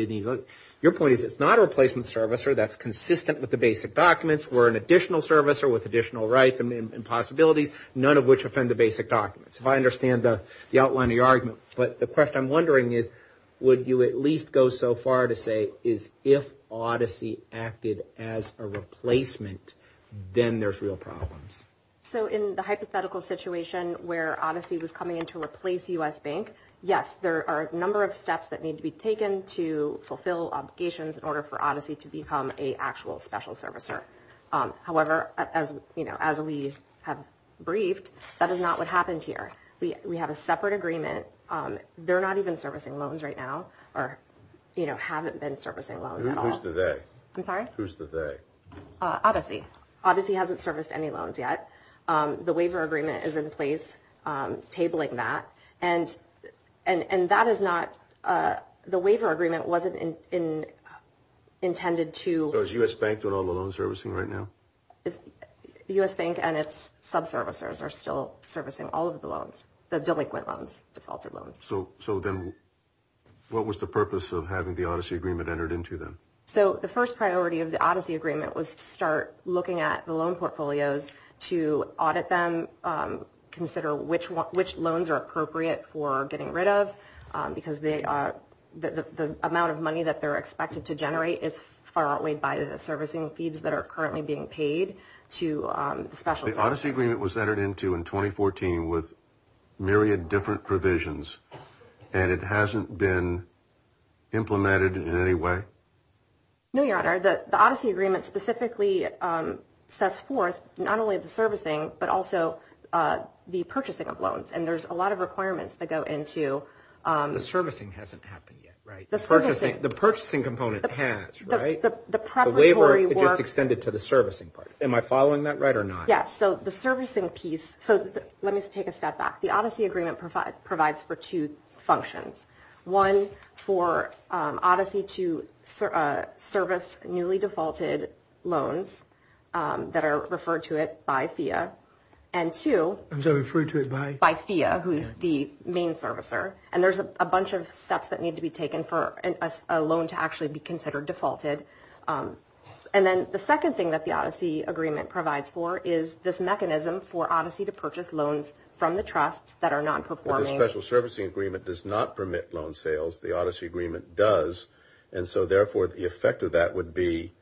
– your point is it's not a replacement servicer that's consistent with the basic documents. We're an additional servicer with additional rights and possibilities, none of which offend the basic documents. If I understand the outline of your argument. But the question I'm wondering is would you at least go so far to say if Odyssey acted as a replacement, then there's real problems? So in the hypothetical situation where Odyssey was coming in to replace U.S. Bank, yes, there are a number of steps that need to be taken to fulfill obligations in order for Odyssey to become an actual special servicer. However, as we have briefed, that is not what happened here. We have a separate agreement. They're not even servicing loans right now or haven't been servicing loans at all. Who's the they? I'm sorry? Who's the they? Odyssey. Odyssey hasn't serviced any loans yet. The waiver agreement is in place tabling that. And that is not – the waiver agreement wasn't intended to – So is U.S. Bank doing all the loan servicing right now? So then what was the purpose of having the Odyssey agreement entered into then? So the first priority of the Odyssey agreement was to start looking at the loan portfolios to audit them, consider which loans are appropriate for getting rid of because the amount of money that they're expected to generate is far outweighed by the servicing fees that are currently being paid to special – So the Odyssey agreement was entered into in 2014 with myriad different provisions and it hasn't been implemented in any way? No, Your Honor. The Odyssey agreement specifically sets forth not only the servicing but also the purchasing of loans. And there's a lot of requirements that go into – The servicing hasn't happened yet, right? The purchasing component has, right? The preparatory work – The waiver is extended to the servicing part. Am I following that right or not? Yeah. So the servicing piece – So let me just take a step back. The Odyssey agreement provides for two functions. One, for Odyssey to service newly defaulted loans that are referred to it by FIIA. And two – So referred to it by? By FIIA, who is the main servicer. And there's a bunch of steps that need to be taken for a loan to actually be considered defaulted. And then the second thing that the Odyssey agreement provides for is this mechanism for Odyssey to purchase loans from the trusts that are not performing. Well, the special servicing agreement does not permit loan sales. The Odyssey agreement does. And so, therefore, the effect of that would be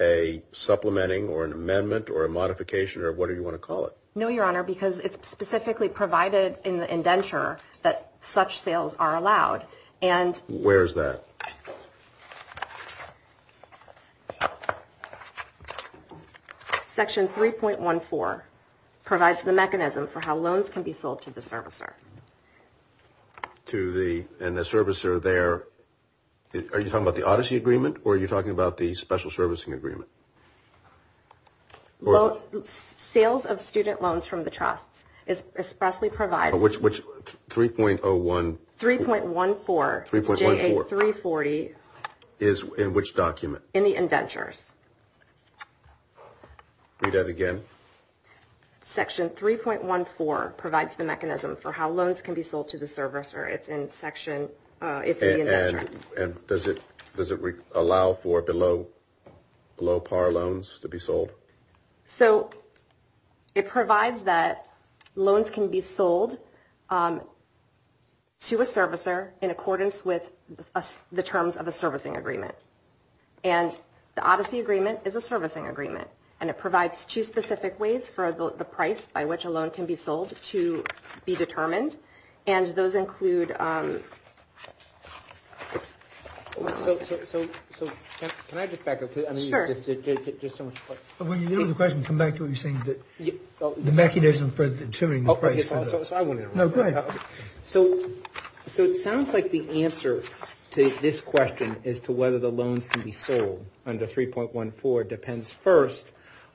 a supplementing or an amendment or a modification or whatever you want to call it. No, Your Honor, because it's specifically provided in the indenture that such sales are allowed. Where is that? Section 3.14 provides the mechanism for how loans can be sold to the servicer. To the – and the servicer there – are you talking about the Odyssey agreement or are you talking about the special servicing agreement? Sales of student loans from the trust is specifically provided – Which 3.01 – 3.14. 3.14. J.A. 340. In which document? In the indentures. Read that again. Section 3.14 provides the mechanism for how loans can be sold to the servicer. It's in section – it's in the indenture. And does it allow for below par loans to be sold? So, it provides that loans can be sold to a servicer in accordance with the terms of a servicing agreement. And the Odyssey agreement is a servicing agreement. And it provides two specific ways for the price by which a loan can be sold to be determined. And those include – So, can I just back up? Sure. Well, you know the question. Come back to what you were saying. The mechanism for determining the price. Okay. No, go ahead. So, it sounds like the answer to this question as to whether the loans can be sold under 3.14 depends first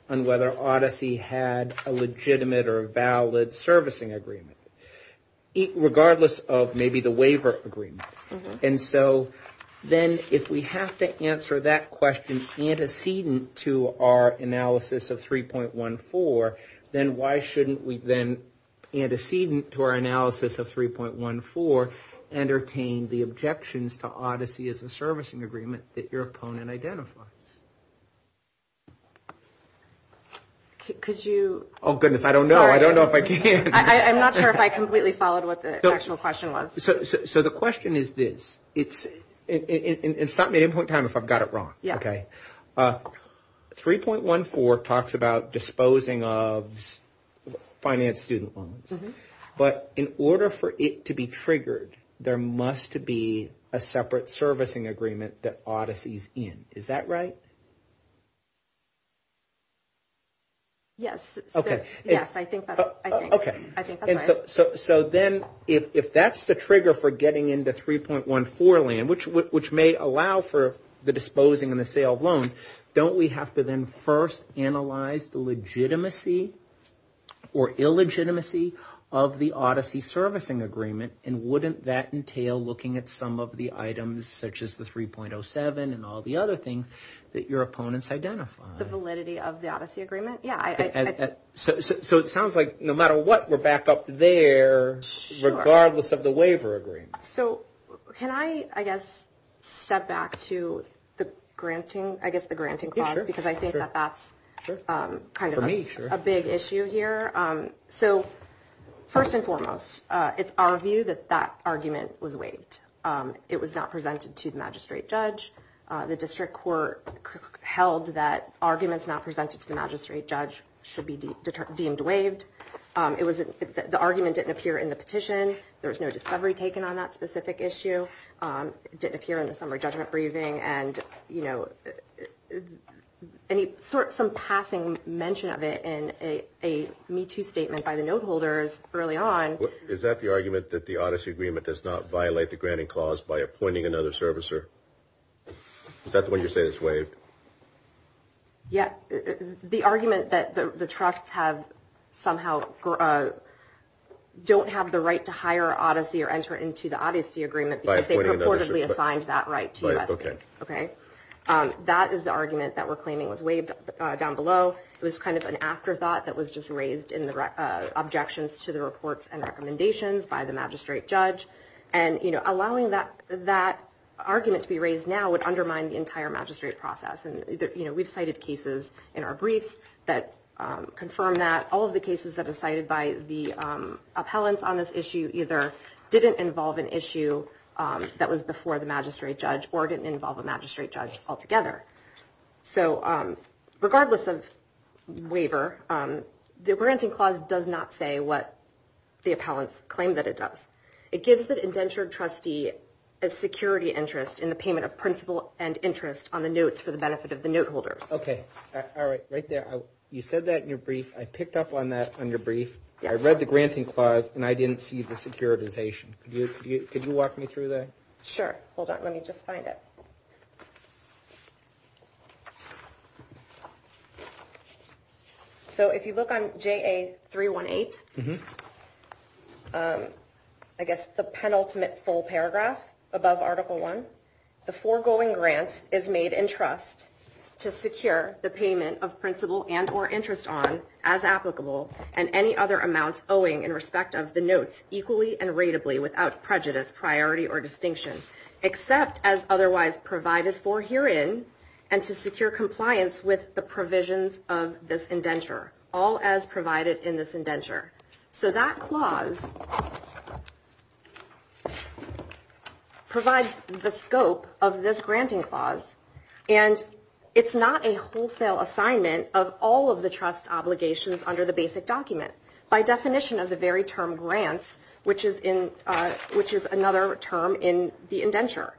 on whether Odyssey had a legitimate or valid servicing agreement. Regardless of maybe the waiver agreement. And so, then if we have to answer that question antecedent to our analysis of 3.14, then why shouldn't we then antecedent to our analysis of 3.14 and obtain the objections to Odyssey as a servicing agreement that your opponent identifies? Could you – Oh, goodness. I don't know. I don't know if I can. I'm not sure if I completely followed what the actual question was. So, the question is this. It's – and stop me at any point in time if I've got it wrong. Yes. Okay. 3.14 talks about disposing of finance student loans. But in order for it to be triggered, there must be a separate servicing agreement that Odyssey is in. Is that right? Yes. Okay. Yes, I think that's right. Okay. I think that's right. So, then if that's the trigger for getting into 3.14 land, which may allow for the disposing and the sale of loans, don't we have to then first analyze the legitimacy or illegitimacy of the Odyssey servicing agreement? And wouldn't that entail looking at some of the items such as the 3.07 and all the other things that your opponents identify? The validity of the Odyssey agreement? Yes. So, it sounds like no matter what, we're back up there regardless of the waiver agreement. So, can I, I guess, step back to the granting – I guess the granting clause, because I think that that's kind of a big issue here. So, first and foremost, it's our view that that argument was waived. It was not presented to the magistrate judge. The district court held that arguments not presented to the magistrate judge should be deemed waived. The argument didn't appear in the petition. There was no discovery taken on that specific issue. It didn't appear in the summary judgment briefing. And, you know, some passing mention of it in a Me Too statement by the note holders early on. Is that the argument that the Odyssey agreement does not violate the granting clause by appointing another servicer? Is that the one you're saying is waived? Yes. The argument that the trust has somehow – don't have the right to hire Odyssey or enter into the Odyssey agreement because they purportedly assigned that right to U.S.C. Okay. That is the argument that we're claiming was waived down below. It was kind of an afterthought that was just raised in the objections to the reports and recommendations by the magistrate judge. And, you know, allowing that argument to be raised now would undermine the entire magistrate process. And, you know, we've cited cases in our brief that confirm that. All of the cases that are cited by the appellants on this issue either didn't involve an issue that was before the magistrate judge or didn't involve a magistrate judge altogether. So regardless of waiver, the granting clause does not say what the appellants claim that it does. It gives an indentured trustee a security interest in the payment of principal and interest on the notes for the benefit of the note holders. Okay. All right. Right there. You said that in your brief. I picked up on that in your brief. I read the granting clause, and I didn't see the securitization. Could you walk me through that? Sure. Hold on. Let me just find it. So if you look on JA-318, I guess the penultimate full paragraph above Article I, the foregoing grant is made in trust to secure the payment of principal and or interest on, as applicable, and any other amounts owing in respect of the notes equally and ratably without prejudice, priority, or distinction, except as otherwise provided for herein, and to secure compliance with the provisions of this indenture, all as provided in this indenture. So that clause provides the scope of this granting clause, and it's not a wholesale assignment of all of the trust obligations under the basic document. By definition of the very term grants, which is another term in the indenture.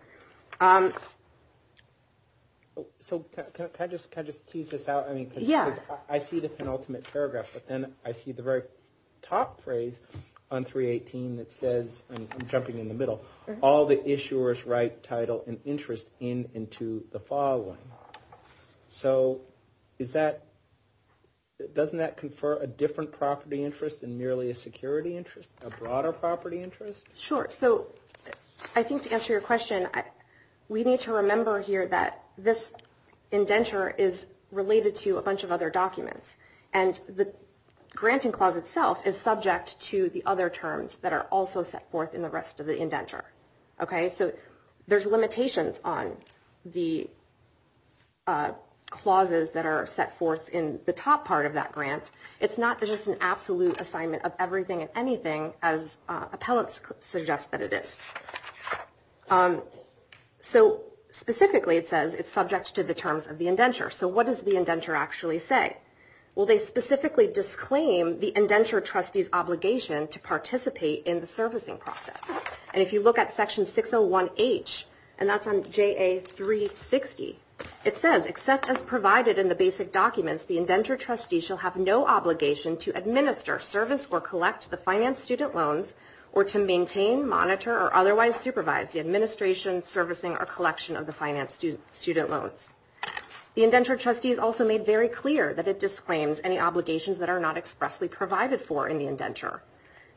So can I just tease this out? Yeah. I see the penultimate paragraph, but then I see the very top phrase on 318 that says, and I'm jumping in the middle, all the issuers write title and interest in and to the following. So doesn't that confer a different property interest than merely a security interest, a broader property interest? Sure. So I think to answer your question, we need to remember here that this indenture is related to a bunch of other documents, and the granting clause itself is subject to the other terms that are also set forth in the rest of the indenture. So there's limitations on the clauses that are set forth in the top part of that grant. It's not just an absolute assignment of everything and anything as appellate suggests that it is. So specifically it says it's subject to the terms of the indenture. So what does the indenture actually say? Well, they specifically disclaim the indenture trustee's obligation to participate in the servicing process. And if you look at Section 601H, and that's on JA 360, it says, except as provided in the basic documents, the indenture trustee shall have no obligation to administer, service, or collect the finance student loans, or to maintain, monitor, or otherwise supervise the administration, servicing, or collection of the finance student loans. The indenture trustee is also made very clear that it disclaims any obligations that are not expressly provided for in the indenture.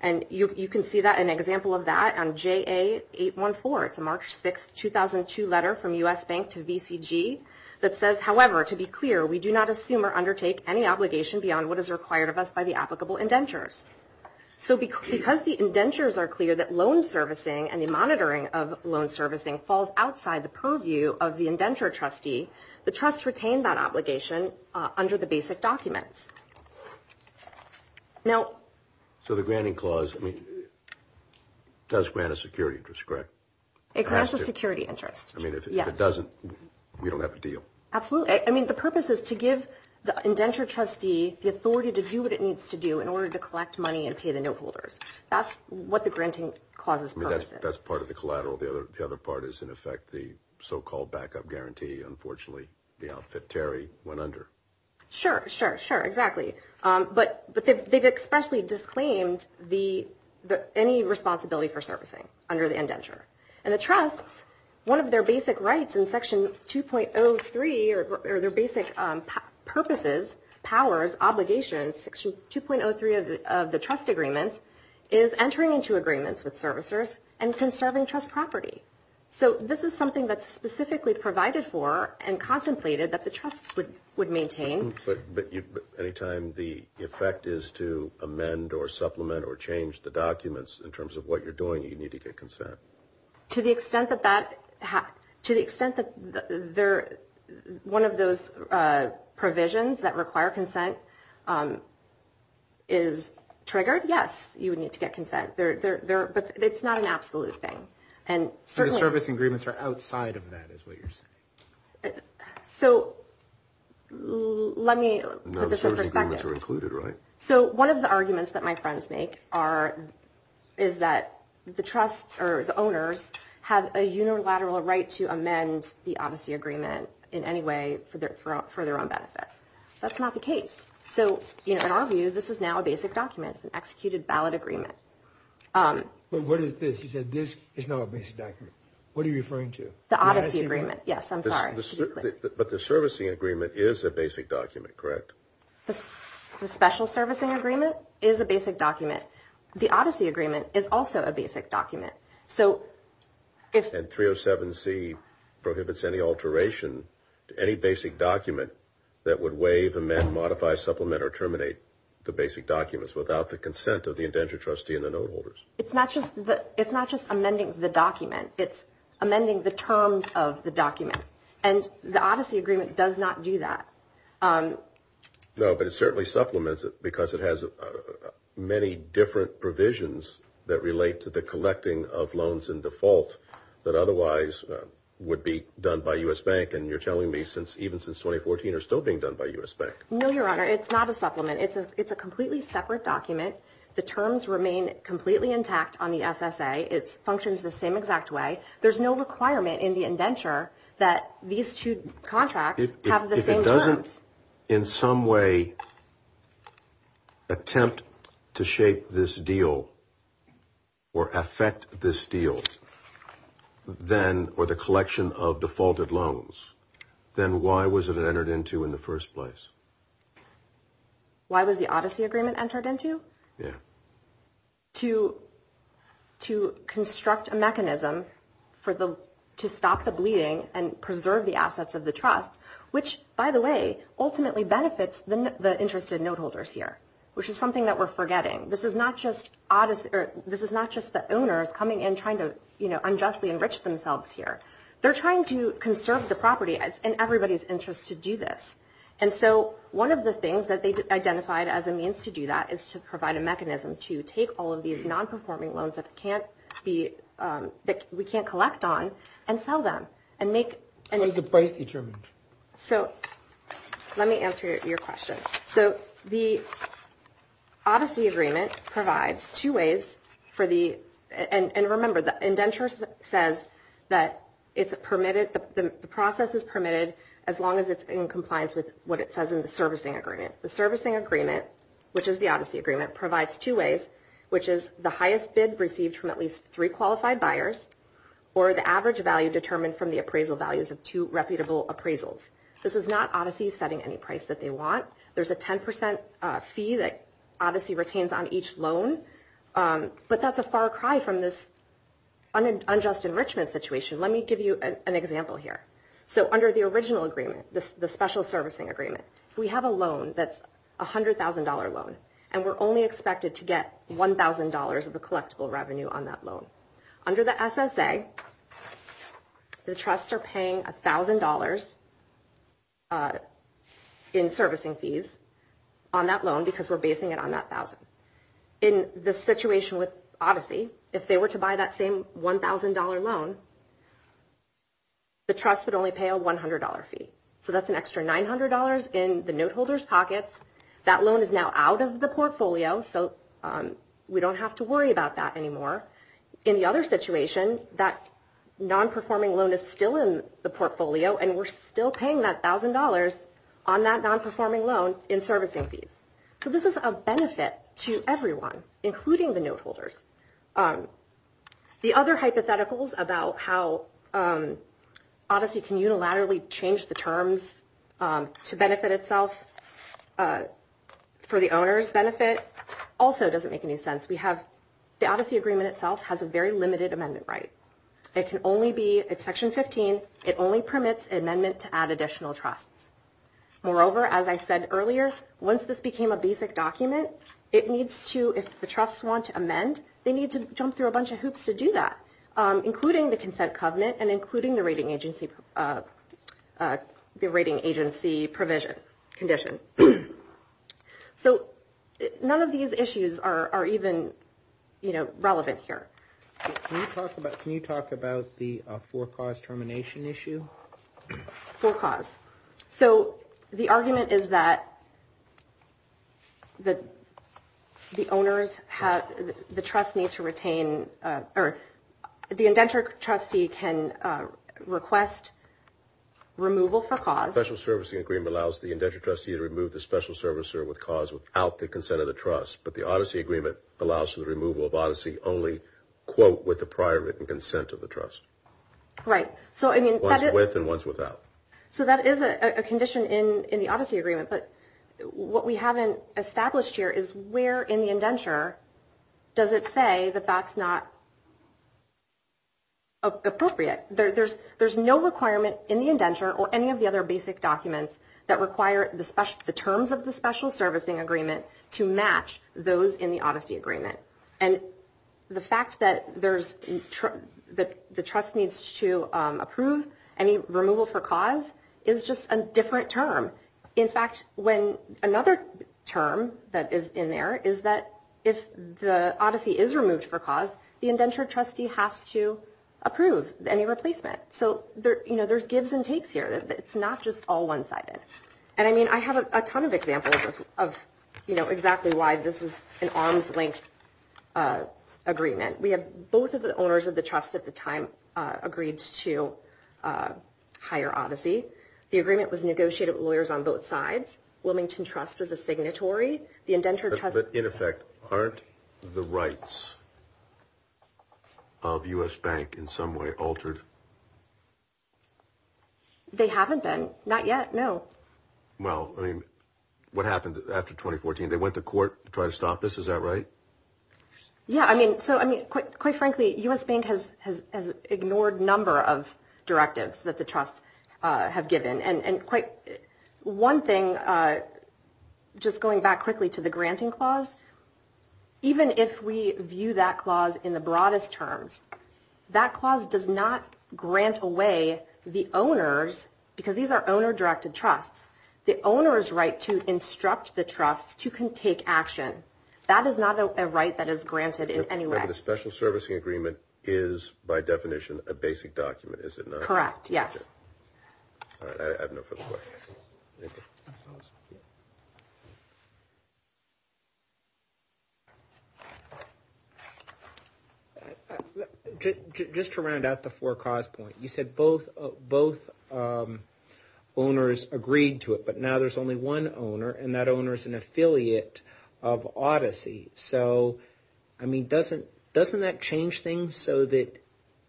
And you can see that in an example of that on JA 814. It's a March 6, 2002 letter from U.S. Bank to VCG that says, however, to be clear, we do not assume or undertake any obligation beyond what is required of us by the applicable indentures. So because the indentures are clear that loan servicing and the monitoring of loan servicing falls outside the purview of the indenture trustee, the trust retained that obligation under the basic documents. So the granting clause does grant a security interest, correct? It grants a security interest, yes. I mean, if it doesn't, we don't have a deal. Absolutely. I mean, the purpose is to give the indenture trustee the authority to do what it needs to do in order to collect money and pay the new holders. That's what the granting clause is about. That's part of the collateral. The other part is, in effect, the so-called backup guarantee. Unfortunately, the outfit Terry went under. Sure, sure, sure, exactly. But they've expressly disclaimed any responsibility for servicing under the indenture. And the trust, one of their basic rights in Section 2.03, or their basic purposes, powers, obligations, Section 2.03 of the trust agreement, is entering into agreements with servicers and conserving trust property. So this is something that's specifically provided for and contemplated that the trust would maintain. But any time the effect is to amend or supplement or change the documents in terms of what you're doing, you need to get consent. To the extent that one of those provisions that require consent is triggered, yes, you would need to get consent. But it's not an absolute thing. So the service agreements are outside of that, is what you're saying? So let me put this in perspective. No, the service agreements are included, right? So one of the arguments that my friends make is that the owners have a unilateral right to amend the obfuscate agreement in any way for their own benefit. That's not the case. So in our view, this is now a basic document. It's an executed ballot agreement. But what is this? You said this is now a basic document. What are you referring to? The odyssey agreement. Yes, I'm sorry. But the servicing agreement is a basic document, correct? The special servicing agreement is a basic document. The odyssey agreement is also a basic document. And 307C prohibits any alteration to any basic document that would waive, amend, modify, supplement, or terminate the basic documents without the consent of the indenture trustee and the note holders. It's not just amending the document. It's amending the terms of the document. And the odyssey agreement does not do that. No, but it certainly supplements it because it has many different provisions that relate to the provision of loans in default that otherwise would be done by U.S. Bank. And you're telling me, even since 2014, they're still being done by U.S. Bank. No, Your Honor, it's not a supplement. It's a completely separate document. The terms remain completely intact on the SSA. It functions the same exact way. There's no requirement in the indenture that these two contracts have the same terms. If you could, in some way, attempt to shape this deal or affect this deal, then, or the collection of defaulted loans, then why was it entered into in the first place? Why was the odyssey agreement entered into? Yeah. To construct a mechanism to stop the bleeding and preserve the assets of the trust, which, by the way, ultimately benefits the interested note holders here, which is something that we're forgetting. This is not just the owner coming in trying to unjustly enrich themselves here. They're trying to conserve the property in everybody's interest to do this. And so one of the things that they identified as a means to do that is to provide a mechanism to take all of these non-performing loans that we can't collect on and sell them. And there's a price determined. So let me answer your question. So the odyssey agreement provides two ways for the – and remember, the indenture says that it's permitted – the process is permitted as long as it's in compliance with what it says in the servicing agreement. The servicing agreement, which is the odyssey agreement, provides two ways, which is the highest bid received from at least three qualified buyers or the average value determined from the appraisal values of two reputable appraisals. This is not odyssey setting any price that they want. There's a 10% fee that odyssey retains on each loan, but that's a far cry from this unjust enrichment situation. Let me give you an example here. So under the original agreement, the special servicing agreement, we have a loan that's a $100,000 loan, and we're only expected to get $1,000 of the collectible revenue on that loan. Under the SSA, the trusts are paying $1,000 in servicing fees on that loan because we're basing it on that $1,000. In the situation with odyssey, if they were to buy that same $1,000 loan, the trust would only pay a $100 fee. So that's an extra $900 in the note holder's pocket. That loan is now out of the portfolio, so we don't have to worry about that anymore. In the other situation, that non-performing loan is still in the portfolio, and we're still paying that $1,000 on that non-performing loan in servicing fees. So this is a benefit to everyone, including the note holders. The other hypotheticals about how odyssey can unilaterally change the terms to benefit itself for the owner's benefit also doesn't make any sense. The odyssey agreement itself has a very limited amendment right. It can only be in Section 15. It only permits an amendment to add additional trust. Moreover, as I said earlier, once this became a basic document, it needs to, if the trust wants to amend, they need to jump through a bunch of hoops to do that, including the consent covenant and including the rating agency provision condition. So none of these issues are even relevant here. Can you talk about the for-cause termination issue? For-cause. So the argument is that the owners have, the trust needs to retain, or the indentured trustee can request removal for-cause. The special servicing agreement allows the indentured trustee to remove the special servicer with cause without the consent of the trust, but the odyssey agreement allows for the removal of odyssey only, quote, with the prior written consent of the trust. Right. Once with and once without. So that is a condition in the odyssey agreement, but what we haven't established here is where in the indenture does it say that that's not appropriate. There's no requirement in the indenture or any of the other basic documents that require the terms of the special servicing agreement to match those in the odyssey agreement. And the fact that the trust needs to approve any removal for-cause is just a different term. In fact, another term that is in there is that if the odyssey is removed for-cause, the indentured trustee has to approve any replacement. So there's gives and takes here. It's not just all one-sided. And, I mean, I have a ton of examples of, you know, exactly why this is an arm's length agreement. We have both of the owners of the trust at the time agreed to hire odyssey. The agreement was negotiated with lawyers on both sides. Wilmington Trust is a signatory. The indentured trustee- But, in effect, aren't the rights of U.S. Bank in some way altered? They haven't been. Not yet? No. Well, I mean, what happened after 2014? They went to court to try to stop this. Is that right? Yeah, I mean, quite frankly, U.S. Bank has ignored a number of directives that the trust have given. And one thing, just going back quickly to the granting clause, even if we view that clause in the broadest terms, that clause does not grant away the owners because these are owner-directed trusts. The owner's right to instruct the trust to take action. That is not a right that is granted in any way. And the special servicing agreement is, by definition, a basic document, is it not? Correct, yes. All right, I have no further questions. Just to round out the four-cause point, you said both owners agreed to it, but now there's only one owner and that owner is an affiliate of Odyssey. So, I mean, doesn't that change things so that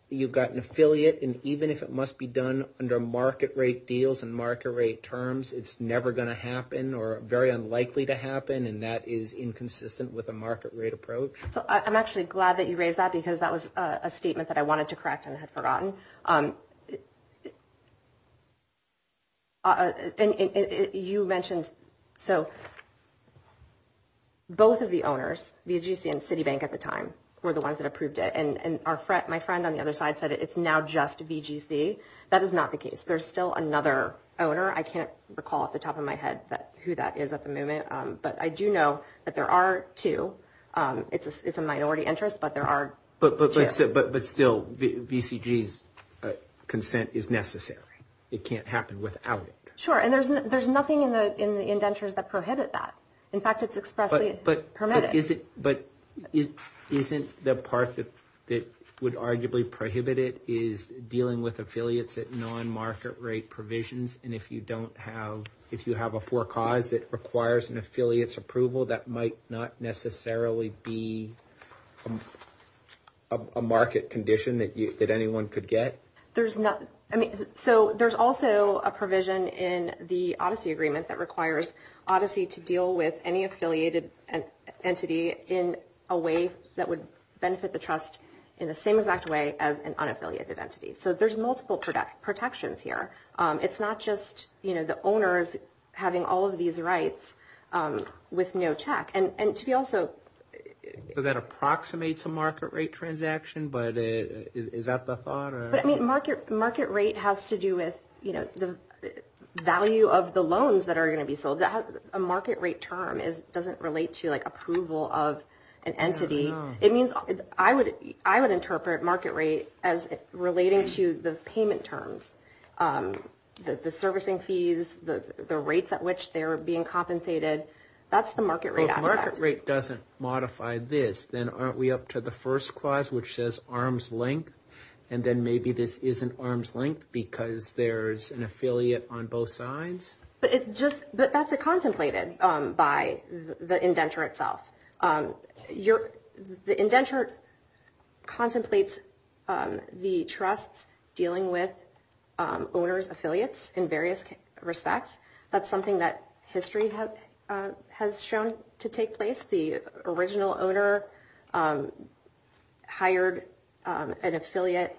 you've got an affiliate and even if it must be done under market rate deals and market rate terms, it's never going to happen or very unlikely to happen and that is inconsistent with a market rate approach? I'm actually glad that you raised that because that was a statement that I wanted to correct and had forgotten. And you mentioned, so both of the owners, VGC and Citibank at the time, were the ones that approved it and my friend on the other side said it's now just VGC. That is not the case. There's still another owner. I can't recall off the top of my head who that is at the moment, but I do know that there are two. It's a minority interest, but there are two. But still, VCG's consent is necessary. It can't happen without it. Sure, and there's nothing in the indentures that prohibited that. In fact, it's expressly permitted. But isn't the part that would arguably prohibit it is dealing with affiliates at non-market rate provisions and if you have a four-cause that requires an affiliate's approval, that might not necessarily be a market condition that anyone could get? There's also a provision in the Odyssey Agreement that requires Odyssey to deal with any affiliated entity in a way that would benefit the trust in the same exact way as an unaffiliated entity. So there's multiple protections here. It's not just the owners having all of these rights with no check. So that approximates a market rate transaction, but is that the thought? Market rate has to do with the value of the loans that are going to be filled. A market rate term doesn't relate to approval of an entity. I would interpret market rate as relating to the payment terms, the servicing fees, the rates at which they're being compensated. That's the market rate. If the market rate doesn't modify this, then aren't we up to the first clause, which says arm's length, and then maybe this isn't arm's length because there's an affiliate on both sides? That's contemplated by the indenture itself. The indenture contemplates the trust dealing with owner's affiliates in various respects. That's something that history has shown to take place. The original owner hired an affiliate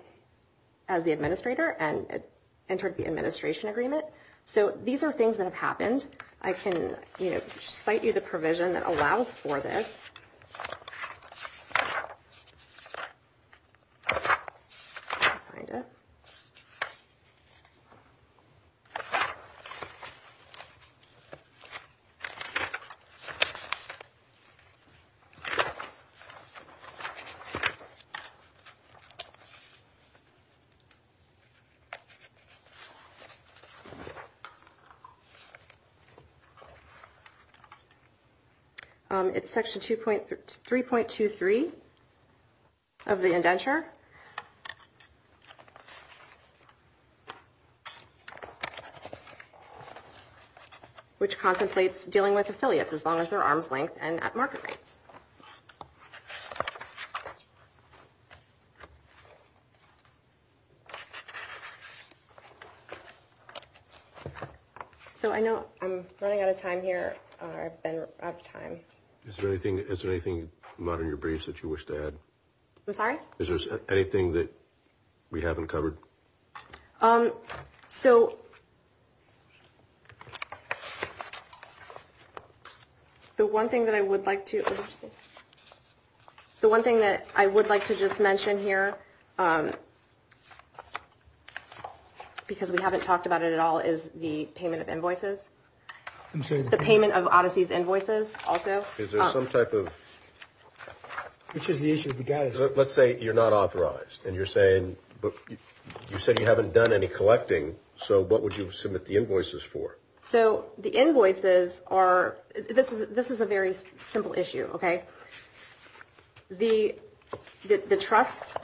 as the administrator and entered the administration agreement. So these are things that have happened. I can cite you the provision that allows for this. It's Section 3.23 of the indenture, which compensates dealing with affiliates as long as they're arm's length and at market rate. So I know I'm running out of time here. I've been out of time. Is there anything not in your briefs that you wish to add? I'm sorry? Is there anything that we haven't covered? The one thing that I would like to just mention here, because we haven't talked about it at all, is the payment of invoices. The payment of Odyssey's invoices, also. Is there some type of... Which is the issue with the guidance? Let's say you're not authorized, and you're saying, you said you haven't done any collecting, so what would you submit the invoices for? So the invoices are... This is a very simple issue, okay? The trust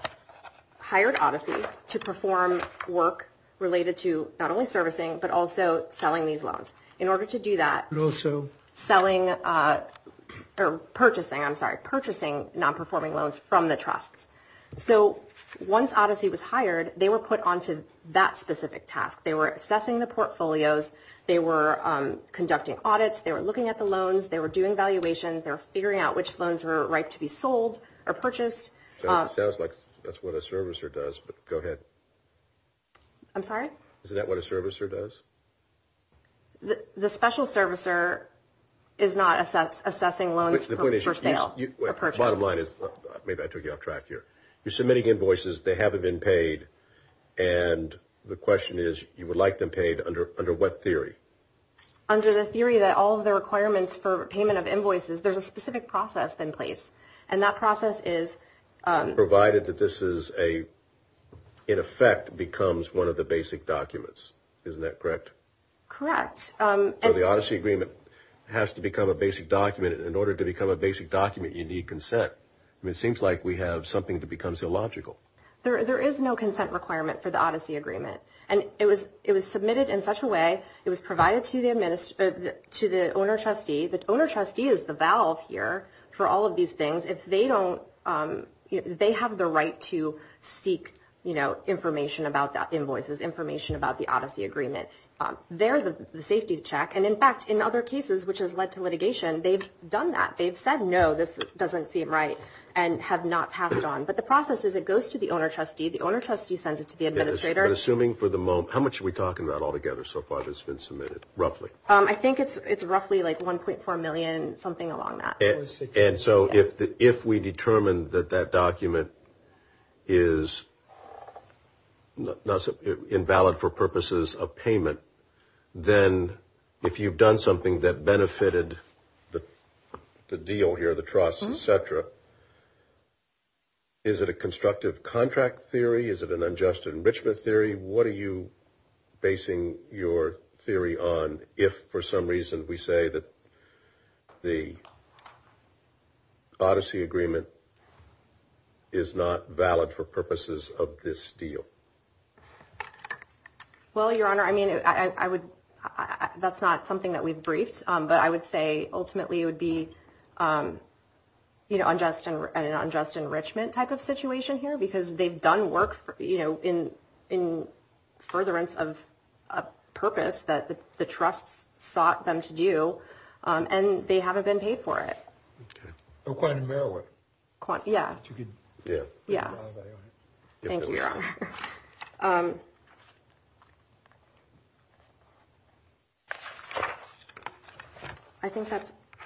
hired Odyssey to perform work related to not only servicing, but also selling these loans. In order to do that... And also... Selling... Or purchasing, I'm sorry. Purchasing non-performing loans from the trust. So once Odyssey was hired, they were put onto that specific task. They were assessing the portfolios. They were conducting audits. They were looking at the loans. They were doing valuations. They were figuring out which loans were right to be sold or purchased. It sounds like that's what a servicer does, but go ahead. I'm sorry? Is that what a servicer does? The special servicer is not assessing loans for sale. The bottom line is... Maybe I took you off track here. You're submitting invoices. They haven't been paid. And the question is, you would like them paid under what theory? Under the theory that all of the requirements for payment of invoices, there's a specific process in place. And that process is... Provided that this is a, in effect, becomes one of the basic documents. Isn't that correct? Correct. So the Odyssey agreement has to become a basic document. In order to become a basic document, you need consent. It seems like we have something that becomes illogical. There is no consent requirement for the Odyssey agreement. And it was submitted in such a way, it was provided to the owner-trustee. The owner-trustee is the valve here for all of these things. If they don't... They have the right to seek information about the invoices, information about the Odyssey agreement. They're the safety check. And, in fact, in other cases, which has led to litigation, they've done that. They've said, no, this doesn't seem right and have not passed it on. But the process is it goes to the owner-trustee. The owner-trustee sends it to the administrator. We're assuming for the moment... How much are we talking about altogether so far that's been submitted, roughly? I think it's roughly like $1.4 million, something along that. And so if we determine that that document is invalid for purposes of payment, then if you've done something that benefited the deal here, the trust, et cetera, is it a constructive contract theory? Is it an unjust enrichment theory? What are you basing your theory on if, for some reason, we say that the Odyssey agreement is not valid for purposes of this deal? Well, Your Honor, I mean, that's not something that we've briefed. But I would say, ultimately, it would be an unjust enrichment type of situation here because they've done work in furtherance of a purpose that the trust sought them to do, and they haven't been paid for it. Okay. Oh, quite a narrow one. Yeah. Yeah. Yeah. Thank you, Your Honor. Thank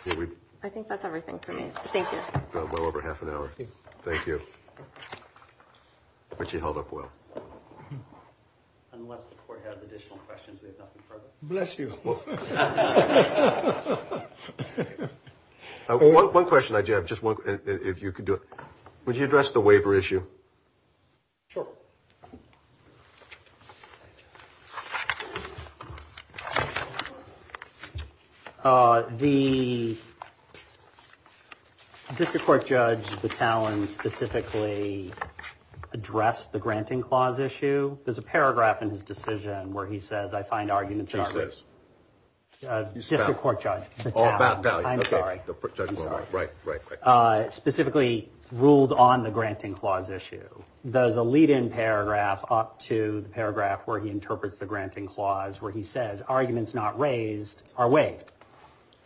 you. I think that's everything for me. Thank you. Well over half an hour. Thank you. I bet you held up well. Unless the Court has additional questions, there's nothing further. Bless you. Well, one question I do have, just one, if you could do it. Would you address the waiver issue? Sure. The district court judge, Battalion, specifically addressed the granting clause issue. There's a paragraph in his decision where he says, I find arguments in our case. Who says? District court judge. Battalion. Battalion, okay. I'm sorry. Right, right, right. Specifically ruled on the granting clause issue. There's a lead-in paragraph up to the paragraph where he interprets the granting clause, where he says, arguments not raised are waived.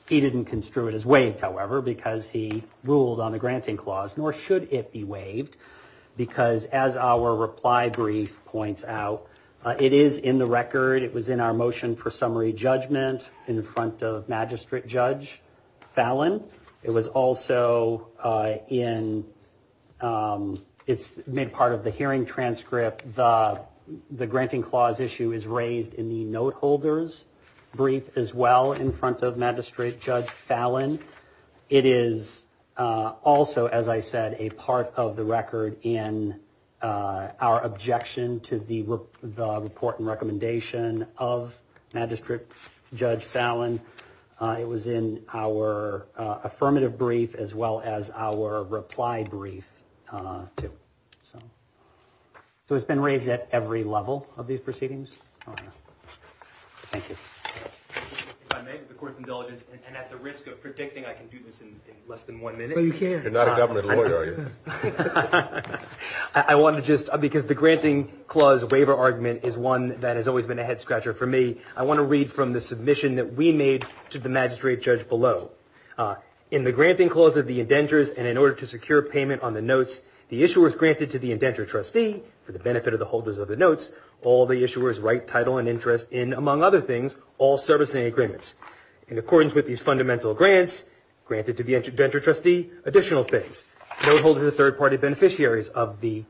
He didn't construe it as waived, however, because he ruled on the granting clause, nor should it be waived, because as our reply brief points out, it is in the record. It was in our motion for summary judgment in front of Magistrate Judge Fallon. It was also in, it's made part of the hearing transcript. The granting clause issue is raised in the note holders brief as well, in front of Magistrate Judge Fallon. It is also, as I said, a part of the record in our objection to the report and recommendation of Magistrate Judge Fallon. It was in our affirmative brief as well as our reply brief, too. So it's been raised at every level of these proceedings. Thank you. If I may, with the court's indulgence and at the risk of predicting I can do this in less than one minute. No, you can't. You're not a government lawyer, are you? I want to just, because the granting clause waiver argument is one that has always been a head-scratcher for me. I want to read from the submission that we made to the Magistrate Judge below. In the granting clause of the indentures and in order to secure payment on the notes, the issuer is granted to the indenture trustee for the benefit of the holders of the notes. All the issuers write title and interest in, among other things, all servicing agreements. In accordance with these fundamental grants, granted to the indenture trustee, additional things. Note holders are third-party beneficiaries of the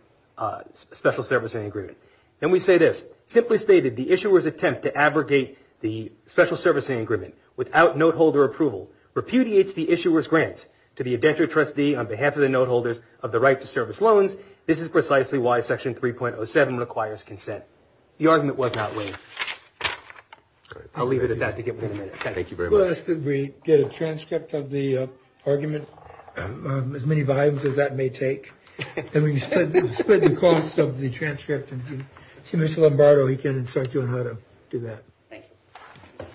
special servicing agreement. Then we say this. Simply stated, the issuer's attempt to abrogate the special servicing agreement without note holder approval repudiates the issuer's grant to the indenture trustee on behalf of the note holders of the right to service loans. This is precisely why Section 3.07 requires consent. The argument was not raised. I'll leave it at that to get through in a minute. Thank you very much. We get a transcript of the argument, as many vibes as that may take. The cost of the transcript. Mr. Lombardo, he can instruct you on how to do that. Thank you.